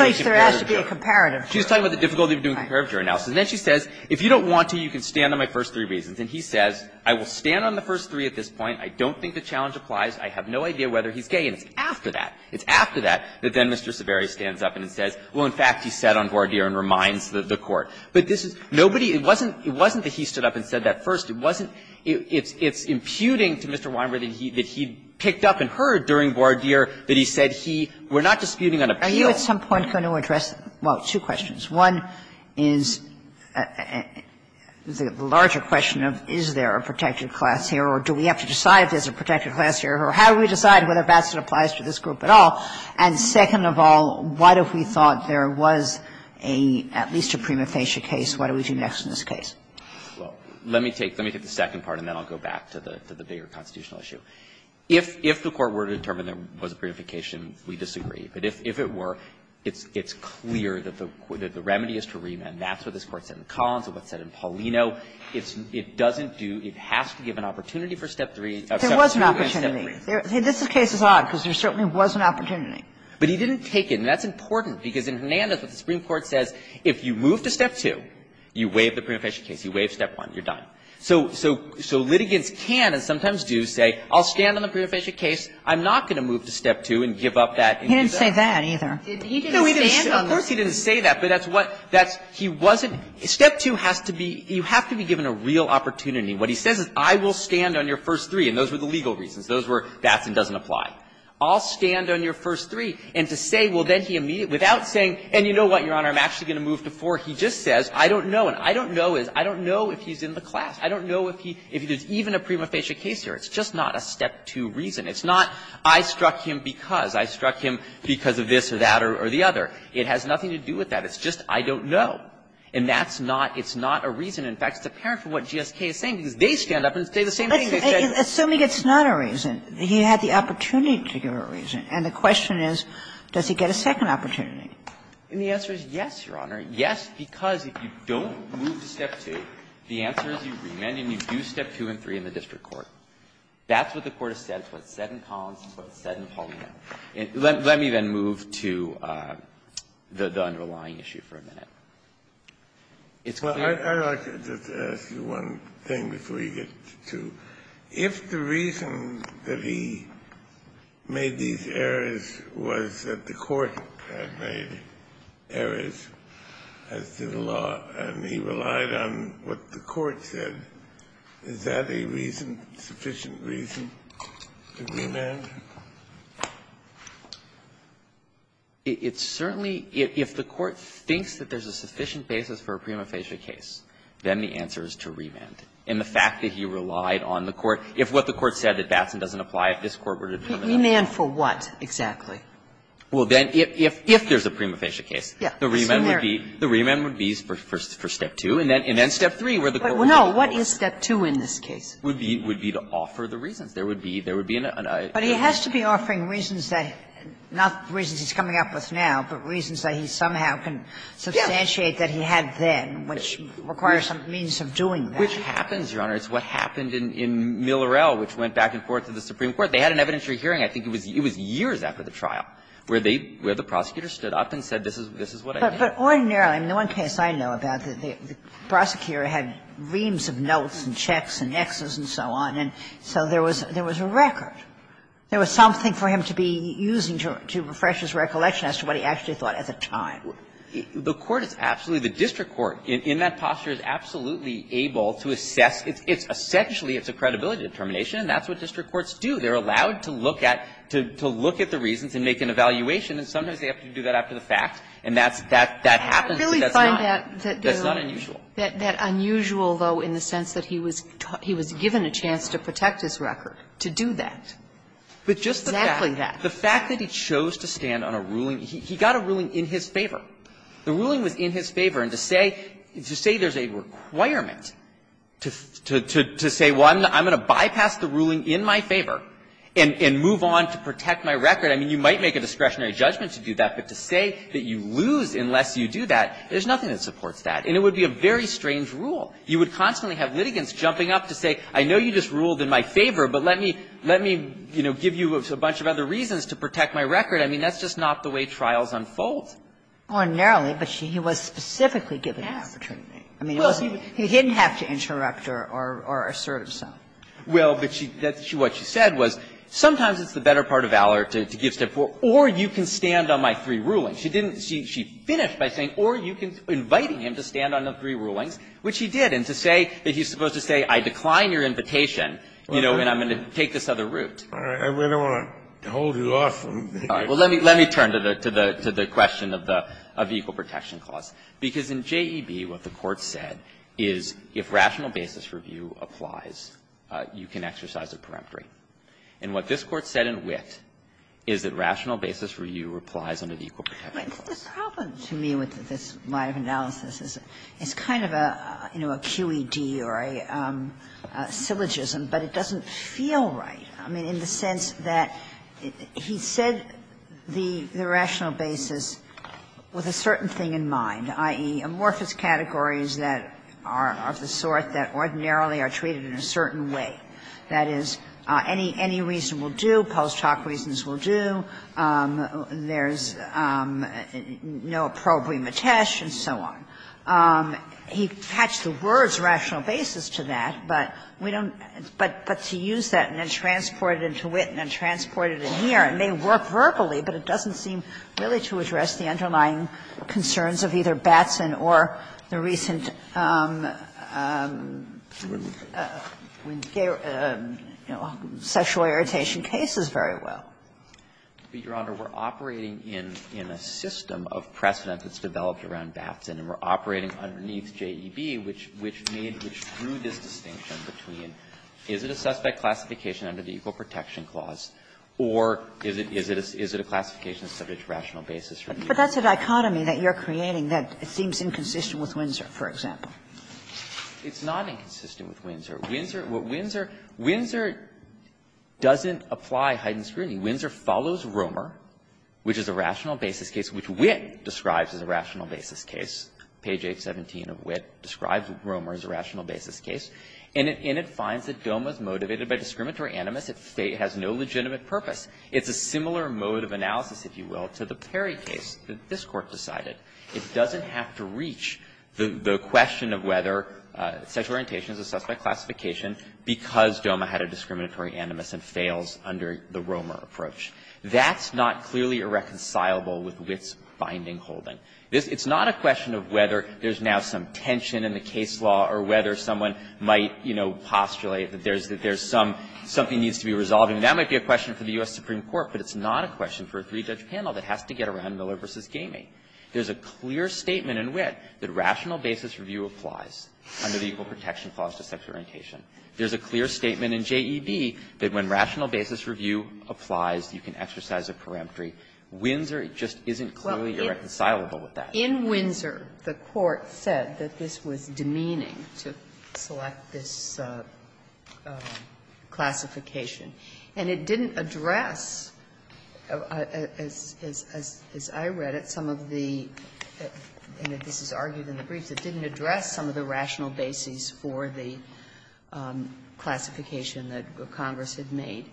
doing comparative jurors. She's talking about the difficulty of doing comparative juror analysis. And then she says, if you don't want to, you can stand on my first three reasons. And he says, I will stand on the first three at this point. I don't think the challenge applies. I have no idea whether he's gay. And it's after that, it's after that, that then Mr. Saverio stands up and says, well, in fact, he sat on voir dire and reminds the Court. But this is nobody – it wasn't that he stood up and said that first. It wasn't – it's imputing to Mr. Weinberg that he picked up and heard during voir dire that he said he – we're not disputing an appeal. Are you at some point going to address – well, two questions. One is the larger question of is there a protected class here or do we have to decide if there's a protected class here, or how do we decide whether that applies to this group at all? And second of all, what if we thought there was a – at least a prima facie case, what do we do next in this case? Well, let me take – let me take the second part, and then I'll go back to the bigger constitutional issue. If the Court were to determine there was a preemptification, we disagree. But if it were, it's clear that the remedy is to remand. That's what this Court said in Collins and what's said in Paulino. It doesn't do – it has to give an opportunity for step three. There was an opportunity. This case is odd, because there certainly was an opportunity. But he didn't take it. And that's important, because in Hernandez, what the Supreme Court says, if you move to step two, you waive the preemptification case, you waive step one, you're done. So litigants can and sometimes do say, I'll stand on the prima facie case, I'm not going to move to step two and give up that. He didn't say that, either. He didn't stand on that. Of course he didn't say that, but that's what – that's – he wasn't – step two has to be – you have to be given a real opportunity. What he says is, I will stand on your first three, and those were the legal reasons. Those were, that's and doesn't apply. I'll stand on your first three. And to say, well, then he immediately – without saying, and you know what, Your Honor, I'm actually going to move to four, he just says, I don't know. And I don't know is, I don't know if he's in the class. I don't know if he – if there's even a prima facie case here. It's just not a step two reason. It's not, I struck him because, I struck him because of this or that or the other. It has nothing to do with that. It's just, I don't know. And that's not – it's not a reason. In fact, it's apparent from what GSK is saying, because they stand up and say the same thing. They said – Kagan. Assuming it's not a reason, he had the opportunity to give a reason. And the question is, does he get a second opportunity? And the answer is yes, Your Honor. Yes, because if you don't move to step two, the answer is you remand and you do step two and three in the district court. That's what the Court has said. It's what's said in Collins. It's what's said in Paulino. Let me then move to the underlying issue for a minute. It's clear to me. Kennedy. I'd like to just ask you one thing before you get to two. If the reason that he made these errors was that the Court had made errors as to the sufficient reason to remand? It's certainly – if the Court thinks that there's a sufficient basis for a prima facie case, then the answer is to remand. And the fact that he relied on the Court – if what the Court said that Batson doesn't apply, if this Court were to determine that. Remand for what, exactly? Well, then if there's a prima facie case, the remand would be for step two, and then step three, where the Court would be able to apply. But no, what is step two in this case? It would be to offer the reasons. There would be – there would be an – But he has to be offering reasons that – not reasons he's coming up with now, but reasons that he somehow can substantiate that he had then, which requires a means of doing that. Which happens, Your Honor. It's what happened in Millerell, which went back and forth to the Supreme Court. They had an evidentiary hearing. I think it was years after the trial where they – where the prosecutor stood up and said, this is what I did. But ordinarily, I mean, the one case I know about, the prosecutor had reams of notes and checks and Xs and so on, and so there was – there was a record. There was something for him to be using to refresh his recollection as to what he actually thought at the time. The Court is absolutely – the district court in that posture is absolutely able to assess. It's – essentially, it's a credibility determination, and that's what district courts do. They're allowed to look at – to look at the reasons and make an evaluation, and sometimes they have to do that after the fact. And that's – that happens, but that's not unusual. Kagan I really find that unusual, though, in the sense that he was given a chance to protect his record, to do that. Exactly that. Winsor The fact that he chose to stand on a ruling – he got a ruling in his favor. The ruling was in his favor, and to say – to say there's a requirement to say, well, I'm going to bypass the ruling in my favor and move on to protect my record, I mean, you might make a discretionary judgment to do that, but to say that you lose unless you do that, there's nothing that supports that. And it would be a very strange rule. You would constantly have litigants jumping up to say, I know you just ruled in my favor, but let me – let me, you know, give you a bunch of other reasons to protect my record. I mean, that's just not the way trials unfold. Kagan Ordinarily, but she – he was specifically given the opportunity. I mean, he didn't have to interrupt or – or assert himself. Winsor Well, but she – what she said was, sometimes it's the better part of valor to give step four, or you can stand on my three rulings. She didn't – she finished by saying, or you can – inviting him to stand on the three rulings, which he did. And to say that he's supposed to say, I decline your invitation, you know, and I'm going to take this other route. Kennedy I don't want to hold you off. Winsor Well, let me – let me turn to the – to the question of the – of the equal protection clause. Because in JEB, what the Court said is, if rational basis review applies, you can exercise a peremptory. And what this Court said in Witt is that rational basis review applies under the equal protection clause. Kagan The problem to me with this line of analysis is it's kind of a, you know, a QED or a syllogism, but it doesn't feel right. I mean, in the sense that he said the rational basis with a certain thing in mind, i.e., amorphous categories that are of the sort that ordinarily are treated in a certain way. That is, any reason will do, post hoc reasons will do, there's no probe rematesh and so on. He attached the words rational basis to that, but we don't – but to use that and then transport it into Witt and then transport it in here, it may work verbally, but it doesn't seem really to address the underlying concerns of either Batson or the recent – Winsor, you know, sexual irritation cases very well. But, Your Honor, we're operating in a system of precedent that's developed around Batson, and we're operating underneath JEB, which made, which drew this distinction between is it a suspect classification under the equal protection clause or is it a classification subject to rational basis review? But that's a dichotomy that you're creating that seems inconsistent with Winsor, for example. It's not inconsistent with Winsor. Winsor – what Winsor – Winsor doesn't apply Heiden's scrutiny. Winsor follows Romer, which is a rational basis case, which Witt describes as a rational basis case. Page 817 of Witt describes Romer as a rational basis case, and it finds that DOMA is motivated by discriminatory animus. It has no legitimate purpose. It's a similar mode of analysis, if you will, to the Perry case that this Court decided. It doesn't have to reach the question of whether sexual orientation is a suspect classification because DOMA had a discriminatory animus and fails under the Romer approach. That's not clearly irreconcilable with Witt's finding holding. It's not a question of whether there's now some tension in the case law or whether someone might, you know, postulate that there's some – something needs to be resolved. And that might be a question for the U.S. Supreme Court, but it's not a question for a three-judge panel that has to get around Miller v. Gamey. There's a clear statement in Witt that rational basis review applies under the Equal Protection Clause to sexual orientation. There's a clear statement in JEB that when rational basis review applies, you can exercise a peremptory. Windsor just isn't clearly irreconcilable with that. In Windsor, the Court said that this was demeaning to select this classification. And it didn't address, as I read it, some of the – and this is argued in the briefs – it didn't address some of the rational basis for the classification that Congress had made,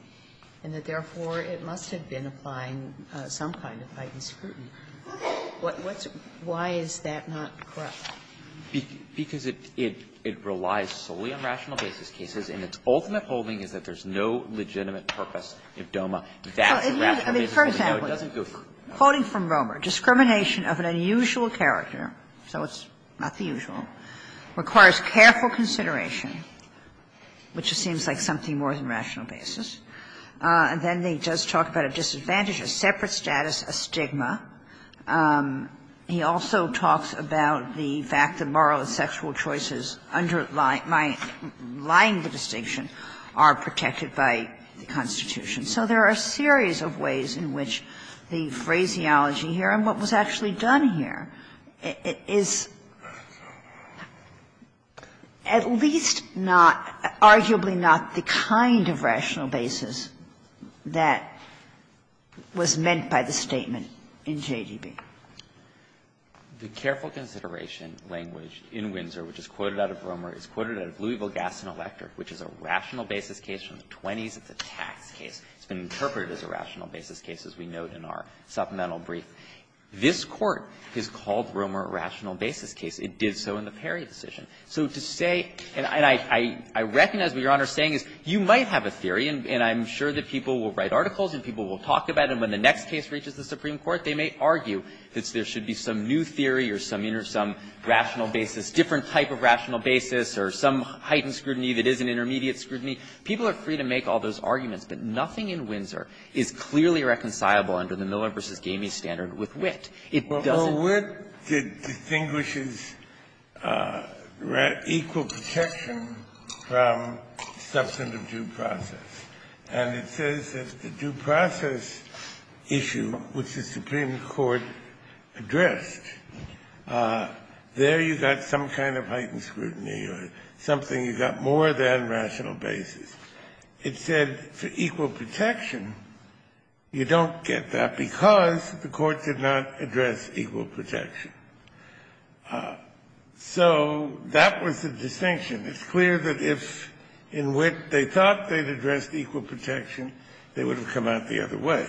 and that therefore it must have been applying some kind of heightened scrutiny. Why is that not correct? Because it relies solely on rational basis cases, and its ultimate holding is that it has no legitimate purpose if DOMA, that rational basis doesn't go through. Kagan. I mean, for example, quoting from Romer, Discrimination of an unusual character, so it's not the usual, requires careful consideration, which seems like something more than rational basis. And then he does talk about a disadvantage, a separate status, a stigma. He also talks about the fact that moral and sexual choices underlying my – lying the distinction are protected by the Constitution. So there are a series of ways in which the phraseology here, and what was actually done here, is at least not, arguably not the kind of rational basis that was meant by the statement in JDB. The careful consideration language in Windsor, which is quoted out of Romer, is quoted out of Louisville Gas and Electric, which is a rational basis case from the 20s. It's a tax case. It's been interpreted as a rational basis case, as we note in our supplemental brief. This Court has called Romer a rational basis case. It did so in the Perry decision. So to say – and I recognize what Your Honor is saying is you might have a theory, and I'm sure that people will write articles and people will talk about it, and when the next case reaches the Supreme Court, they may argue that there should be some new theory or some rational basis, different type of rational basis, or some other heightened scrutiny that is an intermediate scrutiny. People are free to make all those arguments, but nothing in Windsor is clearly reconcilable under the Miller v. Gamey standard with Witt. It doesn't – Kennedy, where it distinguishes equal protection from substantive due process. And it says that the due process issue, which the Supreme Court addressed, there you got some kind of heightened scrutiny or something, you got more than rational basis. It said for equal protection, you don't get that because the Court did not address equal protection. So that was the distinction. It's clear that if in Witt they thought they'd addressed equal protection, they would have come out the other way.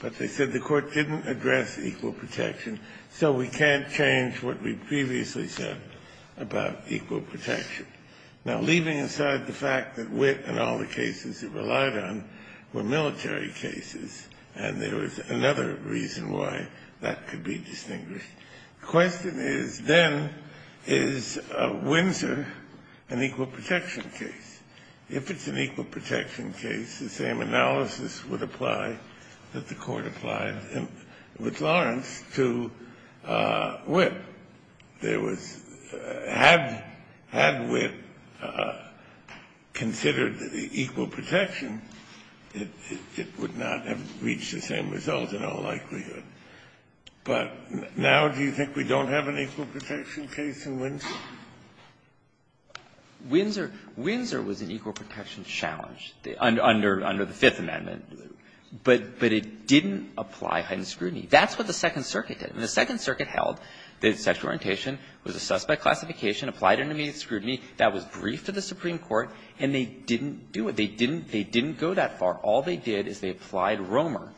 But they said the Court didn't address equal protection, so we can't change what we previously said about equal protection. Now, leaving aside the fact that Witt and all the cases it relied on were military cases, and there was another reason why that could be distinguished, the question is, then, is Windsor an equal protection case? If it's an equal protection case, the same analysis would apply that the Court applied it with Lawrence to Witt. There was – had Witt considered equal protection, it would not have reached the same result in all likelihood. But now do you think we don't have an equal protection case in Windsor? Windsor was an equal protection challenge under the Fifth Amendment. But it didn't apply heightened scrutiny. That's what the Second Circuit did. And the Second Circuit held that sexual orientation was a suspect classification, applied an immediate scrutiny. That was briefed to the Supreme Court, and they didn't do it. They didn't go that far. All they did is they applied Romer,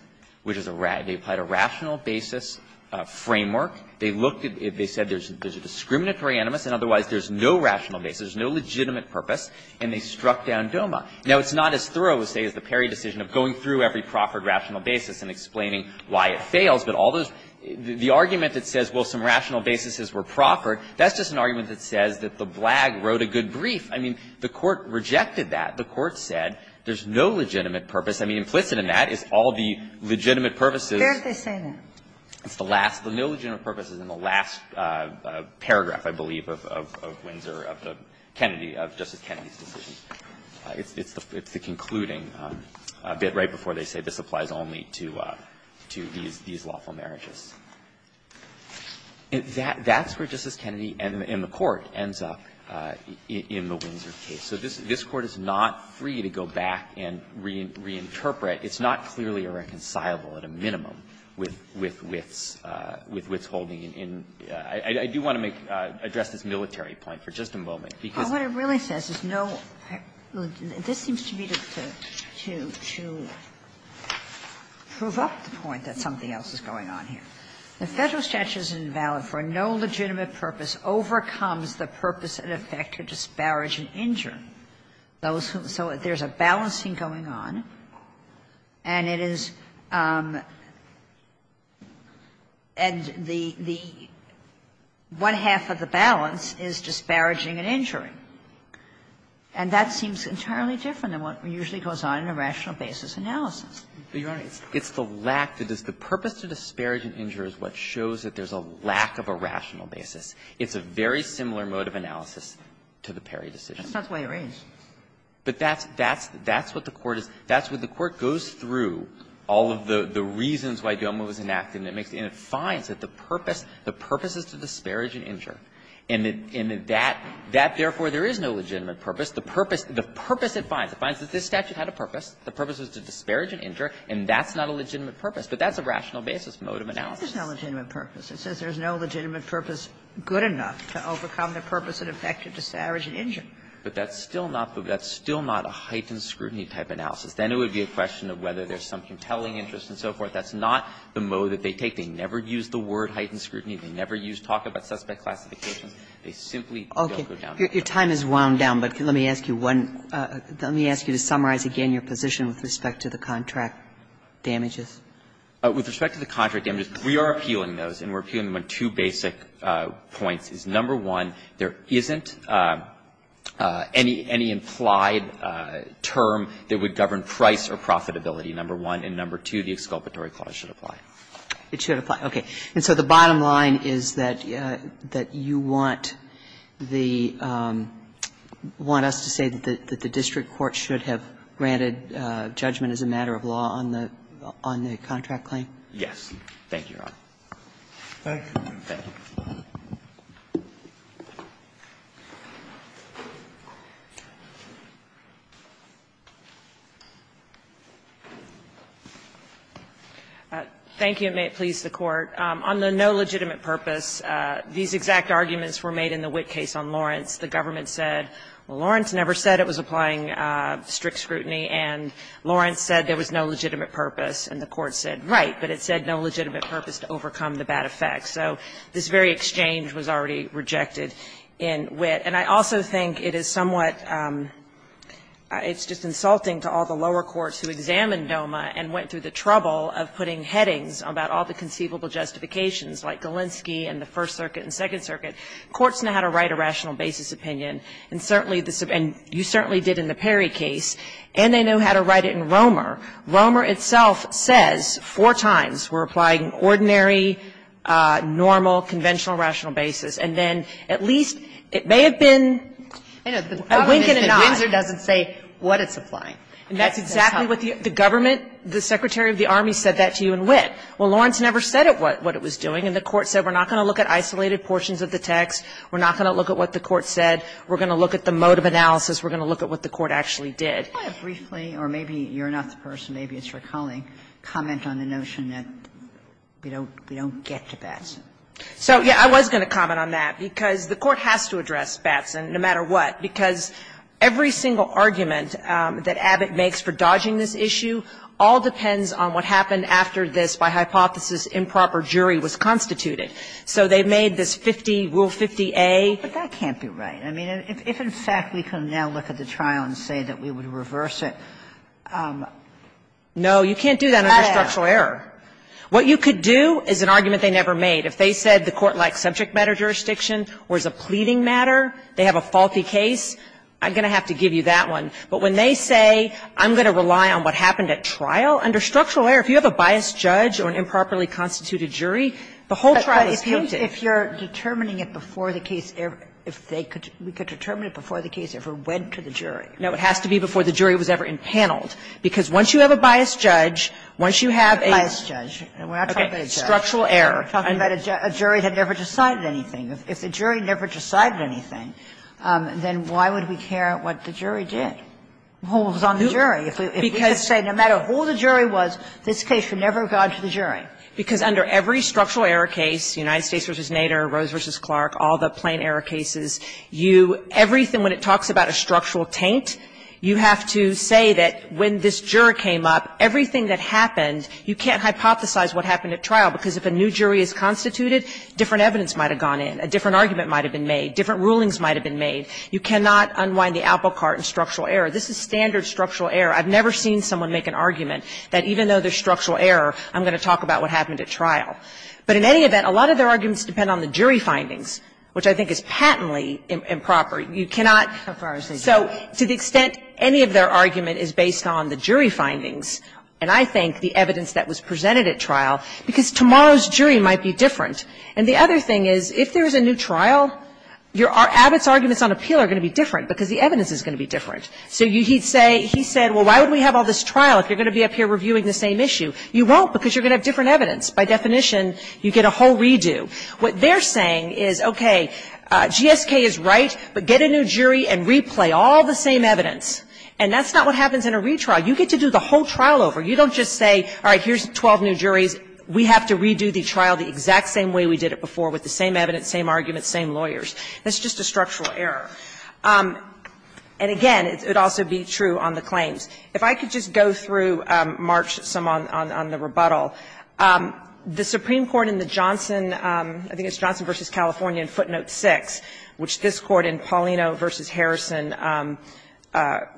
which is a rational basis framework. They looked at – they said there's a discriminatory animus, and otherwise there's no rational basis, no legitimate purpose, and they struck down DOMA. Now, it's not as thorough, say, as the Perry decision of going through every proffered rational basis and explaining why it fails, but all those – the argument that says, well, some rational basis were proffered, that's just an argument that says that the blag wrote a good brief. I mean, the Court rejected that. The Court said there's no legitimate purpose. I mean, implicit in that is all the legitimate purposes. It's the last – the no legitimate purpose is in the last paragraph, I believe, of Windsor, of Kennedy, of Justice Kennedy's decision. It's the concluding bit right before they say this applies only to these lawful marriages. That's where Justice Kennedy and the Court ends up in the Windsor case. So this Court is not free to go back and reinterpret. It's not clearly a reconcilable at a minimum with Wits holding in – I do want to make – address this military point for just a moment. Because what it really says is no – this seems to be to prove up the point that something else is going on here. The Federal statute is invalid for no legitimate purpose overcomes the purpose and effect to disparage and injure those who – so there's a balancing going on. And it is – and the – one-half of the balance is disparaging and injuring and that seems entirely different than what usually goes on in a rational basis analysis. But, Your Honor, it's the lack – it's the purpose to disparage and injure is what shows that there's a lack of a rational basis. It's a very similar mode of analysis to the Perry decision. That's not the way it reads. But that's – that's what the Court is – that's what the Court goes through, all of the reasons why Gilman was enacted, and it makes – and it finds that the purpose – the purpose is to disparage and injure. And that – and that – that, therefore, there is no legitimate purpose. The purpose – the purpose it finds, it finds that this statute had a purpose. The purpose was to disparage and injure, and that's not a legitimate purpose. But that's a rational basis mode of analysis. Kagan. It says there's no legitimate purpose. It says there's no legitimate purpose good enough to overcome the purpose and effect to disparage and injure. But that's still not – that's still not a heightened scrutiny type analysis. Then it would be a question of whether there's some compelling interest and so forth. That's not the mode that they take. They never use the word heightened scrutiny. They never use talk about suspect classifications. They simply don't go down that road. Okay. Your time has wound down, but let me ask you one – let me ask you to summarize again your position with respect to the contract damages. With respect to the contract damages, we are appealing those, and we're appealing them on two basic points, is, number one, there isn't any – any implied term that would govern price or profitability, number one. And number two, the exculpatory clause should apply. It should apply. Okay. And so the bottom line is that you want the – want us to say that the district court should have granted judgment as a matter of law on the contract claim? Thank you, Your Honor. Thank you. Thank you. Thank you, and may it please the Court. On the no legitimate purpose, these exact arguments were made in the Witt case on Lawrence. The government said, well, Lawrence never said it was applying strict scrutiny, and Lawrence said there was no legitimate purpose, and the Court said, right, but it said no legitimate purpose to overcome the bad effects. So this very exchange was already rejected in Witt. And I also think it is somewhat – it's just insulting to all the lower courts who examined DOMA and went through the trouble of putting headings about all the conceivable justifications, like Galinsky and the First Circuit and Second Circuit. Courts know how to write a rational basis opinion, and certainly the – and you certainly did in the Perry case, and they know how to write it in Romer. Romer itself says four times we're applying ordinary, normal, conventional rational basis, and then at least it may have been a wink and a nod. I know. The government in Windsor doesn't say what it's applying. And that's exactly what the government, the Secretary of the Army said that to you in Witt. Well, Lawrence never said it what it was doing, and the Court said we're not going to look at isolated portions of the text. We're not going to look at what the Court said. We're going to look at the mode of analysis. We're going to look at what the Court actually did. Kagan, did you want to briefly, or maybe you're not the person, maybe it's your colleague, comment on the notion that we don't get to Batson? So, yes, I was going to comment on that, because the Court has to address Batson no matter what, because every single argument that Abbott makes for dodging this issue all depends on what happened after this, by hypothesis, improper jury was constituted. So they made this 50, Rule 50a. But that can't be right. I mean, if in fact we can now look at the trial and say that we would reverse it. No, you can't do that under structural error. What you could do is an argument they never made. If they said the Court liked subject matter jurisdiction or is a pleading matter, they have a faulty case, I'm going to have to give you that one. But when they say I'm going to rely on what happened at trial, under structural error, if you have a biased judge or an improperly constituted jury, the whole trial is guilty. If you're determining it before the case ever, if they could, we could determine it before the case ever went to the jury. No, it has to be before the jury was ever impaneled, because once you have a biased judge, once you have a. A biased judge, we're not talking about a judge. Structural error. We're talking about a jury that never decided anything. If the jury never decided anything, then why would we care what the jury did, who was on the jury? Because. If we could say no matter who the jury was, this case should never have gone to the jury. Because under every structural error case, United States v. Nader, Rose v. Clark, all the plain error cases, you, everything, when it talks about a structural taint, you have to say that when this juror came up, everything that happened, you can't hypothesize what happened at trial, because if a new jury is constituted, different evidence might have gone in, a different argument might have been made, different rulings might have been made. You cannot unwind the apple cart in structural error. This is standard structural error. I've never seen someone make an argument that even though there's structural error, I'm going to talk about what happened at trial. But in any event, a lot of their arguments depend on the jury findings, which I think is patently improper. You cannot so to the extent any of their argument is based on the jury findings, and I think the evidence that was presented at trial, because tomorrow's jury might be different. And the other thing is, if there is a new trial, Abbott's arguments on appeal are going to be different, because the evidence is going to be different. So he'd say, he said, well, why would we have all this trial if you're going to be up here reviewing the same issue? You won't, because you're going to have different evidence. By definition, you get a whole redo. What they're saying is, okay, GSK is right, but get a new jury and replay all the same evidence. And that's not what happens in a retrial. You get to do the whole trial over. You don't just say, all right, here's 12 new juries. We have to redo the trial the exact same way we did it before with the same evidence, same arguments, same lawyers. That's just a structural error. And again, it would also be true on the claims. If I could just go through, March, some on the rebuttal. The Supreme Court in the Johnson, I think it's Johnson v. California in footnote 6, which this Court in Paulino v. Harrison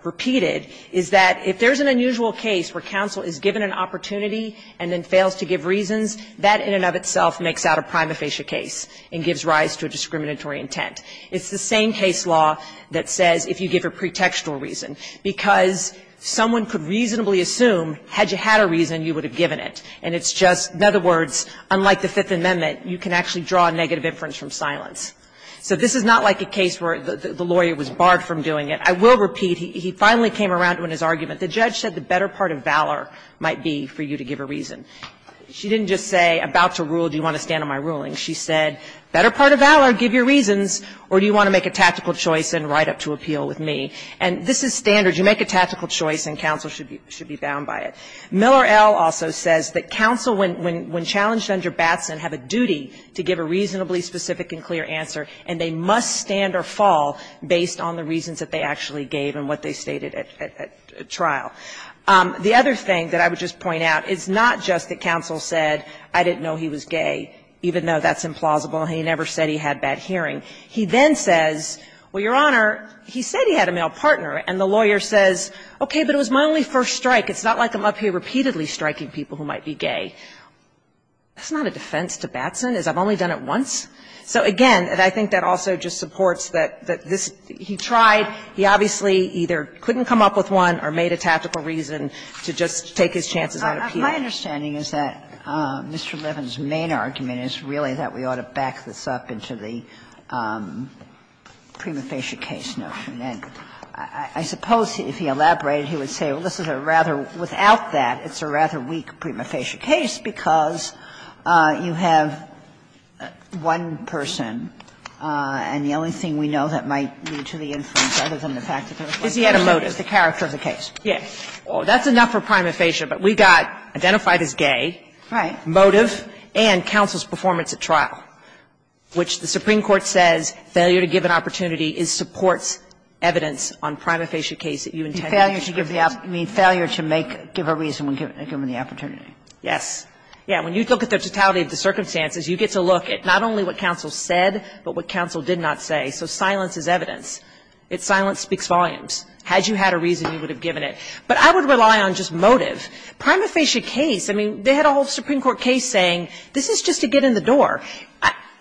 repeated, is that if there's an unusual case where counsel is given an opportunity and then fails to give reasons, that in and of itself makes out a prima facie case and gives rise to a discriminatory intent. It's the same case law that says if you give a pretextual reason, because someone could reasonably assume, had you had a reason, you would have given it. And it's just, in other words, unlike the Fifth Amendment, you can actually draw a negative inference from silence. So this is not like a case where the lawyer was barred from doing it. I will repeat, he finally came around to it in his argument. The judge said the better part of valor might be for you to give a reason. She didn't just say, about to rule, do you want to stand on my ruling? She said, better part of valor, give your reasons, or do you want to make a tactical choice and write up to appeal with me? And this is standard. You make a tactical choice, and counsel should be bound by it. Miller, L., also says that counsel, when challenged under Batson, have a duty to give a reasonably specific and clear answer, and they must stand or fall based on the reasons that they actually gave and what they stated at trial. The other thing that I would just point out is not just that counsel said, I didn't know he was gay, even though that's implausible, and he never said he had bad hearing. He then says, well, Your Honor, he said he had a male partner, and the lawyer says, okay, but it was my only first strike. It's not like I'm up here repeatedly striking people who might be gay. That's not a defense to Batson, is I've only done it once? So again, and I think that also just supports that this he tried, he obviously either couldn't come up with one or made a tactical reason to just take his chances on appeal. Kagan. Kagan. And my understanding is that Mr. Levin's main argument is really that we ought to back this up into the prima facie case notion. I suppose if he elaborated, he would say, well, this is a rather, without that, it's a rather weak prima facie case because you have one person and the only thing we know that might lead to the inference other than the fact that there was one person. Kagan. Yeah. Well, that's enough for prima facie, but we got identified as gay. Right. Motive and counsel's performance at trial, which the Supreme Court says failure to give an opportunity supports evidence on prima facie case that you intended to give an opportunity. Failure to give a reason when given the opportunity. Yes. Yeah, when you look at the totality of the circumstances, you get to look at not only what counsel said, but what counsel did not say, so silence is evidence. It's silence speaks volumes. Had you had a reason, you would have given it. But I would rely on just motive. Prima facie case, I mean, they had a whole Supreme Court case saying this is just to get in the door.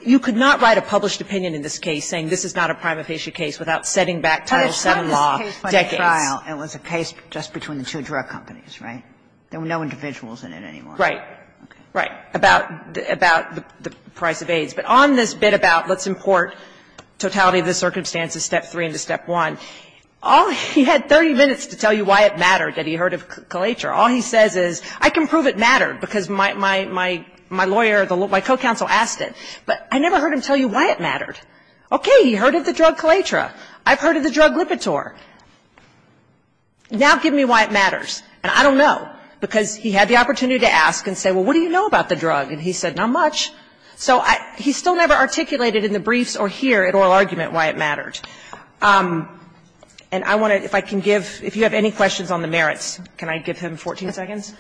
You could not write a published opinion in this case saying this is not a prima facie case without setting back Title VII law decades. But it's not just a case for the trial. It was a case just between the two drug companies, right? There were no individuals in it anymore. Right. Right. About the price of AIDS. But on this bit about let's import totality of the circumstances, step three into step one, all he had 30 minutes to tell you why it mattered that he heard of Kaletra. All he says is I can prove it mattered because my lawyer, my co-counsel asked it. But I never heard him tell you why it mattered. Okay. He heard of the drug Kaletra. I've heard of the drug Lipitor. Now give me why it matters. And I don't know, because he had the opportunity to ask and say, well, what do you know about the drug? And he said, not much. So he still never articulated in the briefs or here at oral argument why it mattered. And I want to, if I can give, if you have any questions on the merits, can I give him 14 seconds?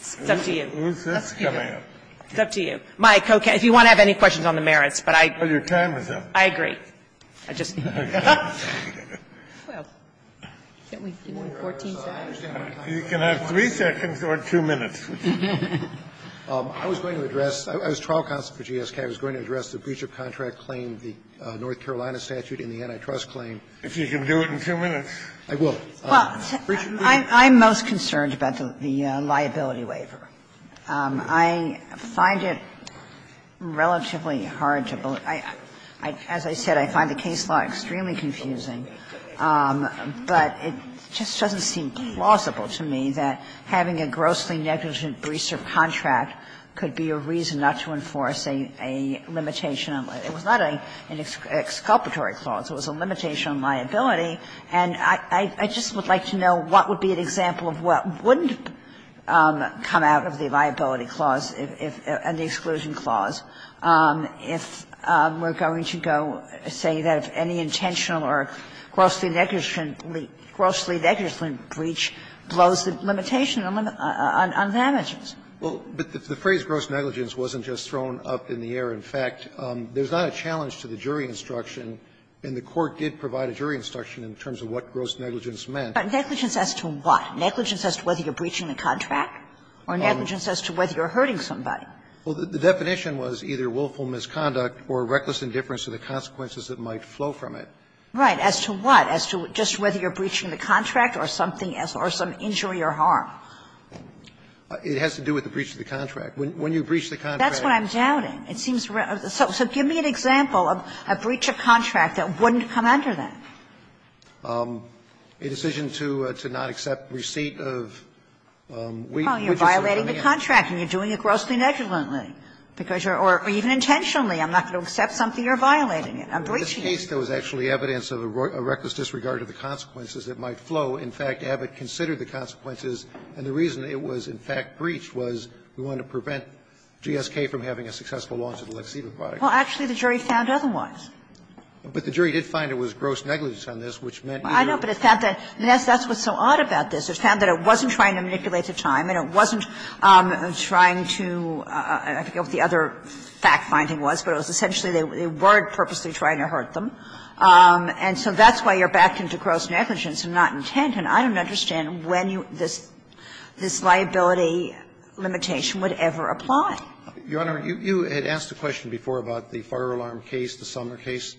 It's up to you. It's up to you. Mike, if you want to have any questions on the merits, but I agree. I just need to get up. You can have three seconds or two minutes. I was going to address, as trial counsel for GSK, I was going to address the breach of contract claim, the North Carolina statute and the antitrust claim. If you can do it in two minutes. I will. Well, I'm most concerned about the liability waiver. I find it relatively hard to believe. As I said, I find the case law extremely confusing, but it just doesn't seem plausible to me that having a grossly negligent breach of contract could be a reason not to enforce a limitation on liability. It was not an exculpatory clause. It was a limitation on liability. And I just would like to know what would be an example of what wouldn't come out of the liability clause and the exclusion clause if we're going to go say that if any intentional or grossly negligent breach blows the limitation on damages. Well, but the phrase gross negligence wasn't just thrown up in the air. In fact, there's not a challenge to the jury instruction, and the Court did provide a jury instruction in terms of what gross negligence meant. Negligence as to what? Negligence as to whether you're breaching the contract or negligence as to whether you're hurting somebody? Well, the definition was either willful misconduct or reckless indifference to the consequences that might flow from it. Right. As to what? As to just whether you're breaching the contract or something as or some injury or harm? It has to do with the breach of the contract. When you breach the contract. That's what I'm doubting. It seems so. So give me an example of a breach of contract that wouldn't come under that. A decision to not accept receipt of. Well, you're violating the contract and you're doing it grossly negligently because you're or even intentionally. I'm not going to accept something you're violating. I'm breaching it. In this case, there was actually evidence of a reckless disregard of the consequences that might flow. In fact, Abbott considered the consequences, and the reason it was, in fact, breached was we wanted to prevent GSK from having a successful launch of the Lexiva product. Well, actually, the jury found otherwise. But the jury did find it was gross negligence on this, which meant either. I know, but it found that that's what's so odd about this. It found that it wasn't trying to manipulate the time and it wasn't trying to, I forget what the other fact-finding was, but it was essentially they were purposely trying to hurt them. And so that's why you're backed into gross negligence and not intent, and I don't understand when you this liability limitation would ever apply. Your Honor, you had asked a question before about the fire alarm case, the Sumner case,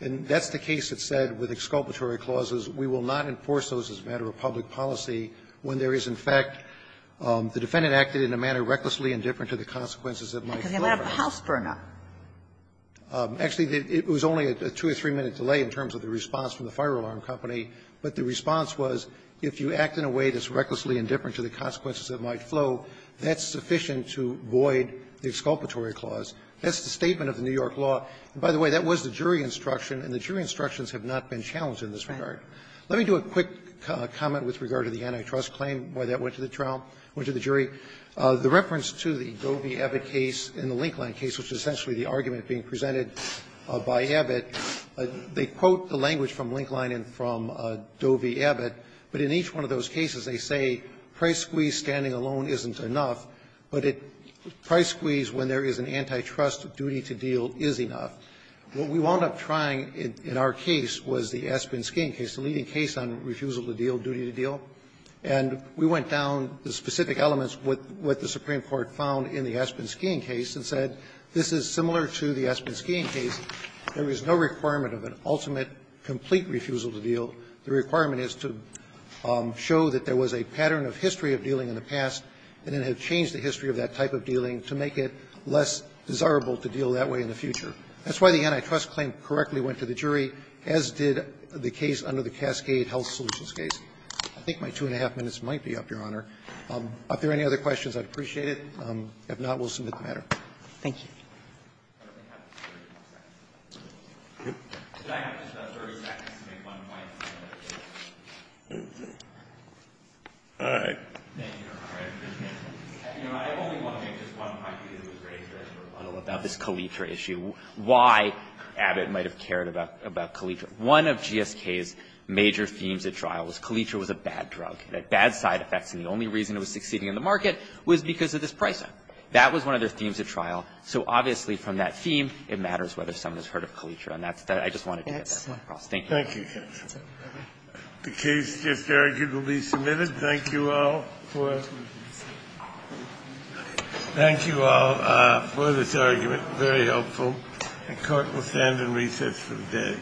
and that's the case that said with exculpatory clauses, we will not enforce those as a matter of public policy when there is, in fact, the defendant acted in a manner recklessly indifferent to the consequences that might flow. Because they let up a house burn-up. Actually, it was only a two or three-minute delay in terms of the response from the fire alarm company, but the response was, if you act in a way that's recklessly indifferent to the consequences that might flow, that's sufficient to void the exculpatory clause. That's the statement of the New York law. And by the way, that was the jury instruction, and the jury instructions have not been challenged in this regard. Let me do a quick comment with regard to the antitrust claim, why that went to the trial, went to the jury. The reference to the Govey-Evitt case and the Linkline case, which is essentially the argument being presented by Evitt, they quote the language from Linkline and from Govey-Evitt, but in each one of those cases they say price squeeze standing alone isn't enough, but it price squeeze when there is an antitrust duty to deal is enough. What we wound up trying in our case was the Aspen skiing case, the leading case on refusal to deal, duty to deal. And we went down the specific elements with what the Supreme Court found in the Aspen skiing case, there is no requirement of an ultimate, complete refusal to deal. The requirement is to show that there was a pattern of history of dealing in the past, and then have changed the history of that type of dealing to make it less desirable to deal that way in the future. That's why the antitrust claim correctly went to the jury, as did the case under the Cascade Health Solutions case. I think my two and a half minutes might be up, Your Honor. Are there any other questions? I'd appreciate it. If not, we'll submit the matter. Thank you. I only want to make just one point, because it was raised in a rebuttal about this Kalitra issue, why Abbott might have cared about Kalitra. One of GSK's major themes at trial was Kalitra was a bad drug, it had bad side effects, and the only reason it was succeeding in the market was because of this price up. That was one of their themes at trial. So obviously from that theme, it matters whether someone has heard of Kalitra. And that's what I just wanted to get across. Thank you. Thank you. The case just argued will be submitted. Thank you all for this argument. Very helpful. The Court will stand and recess for the day.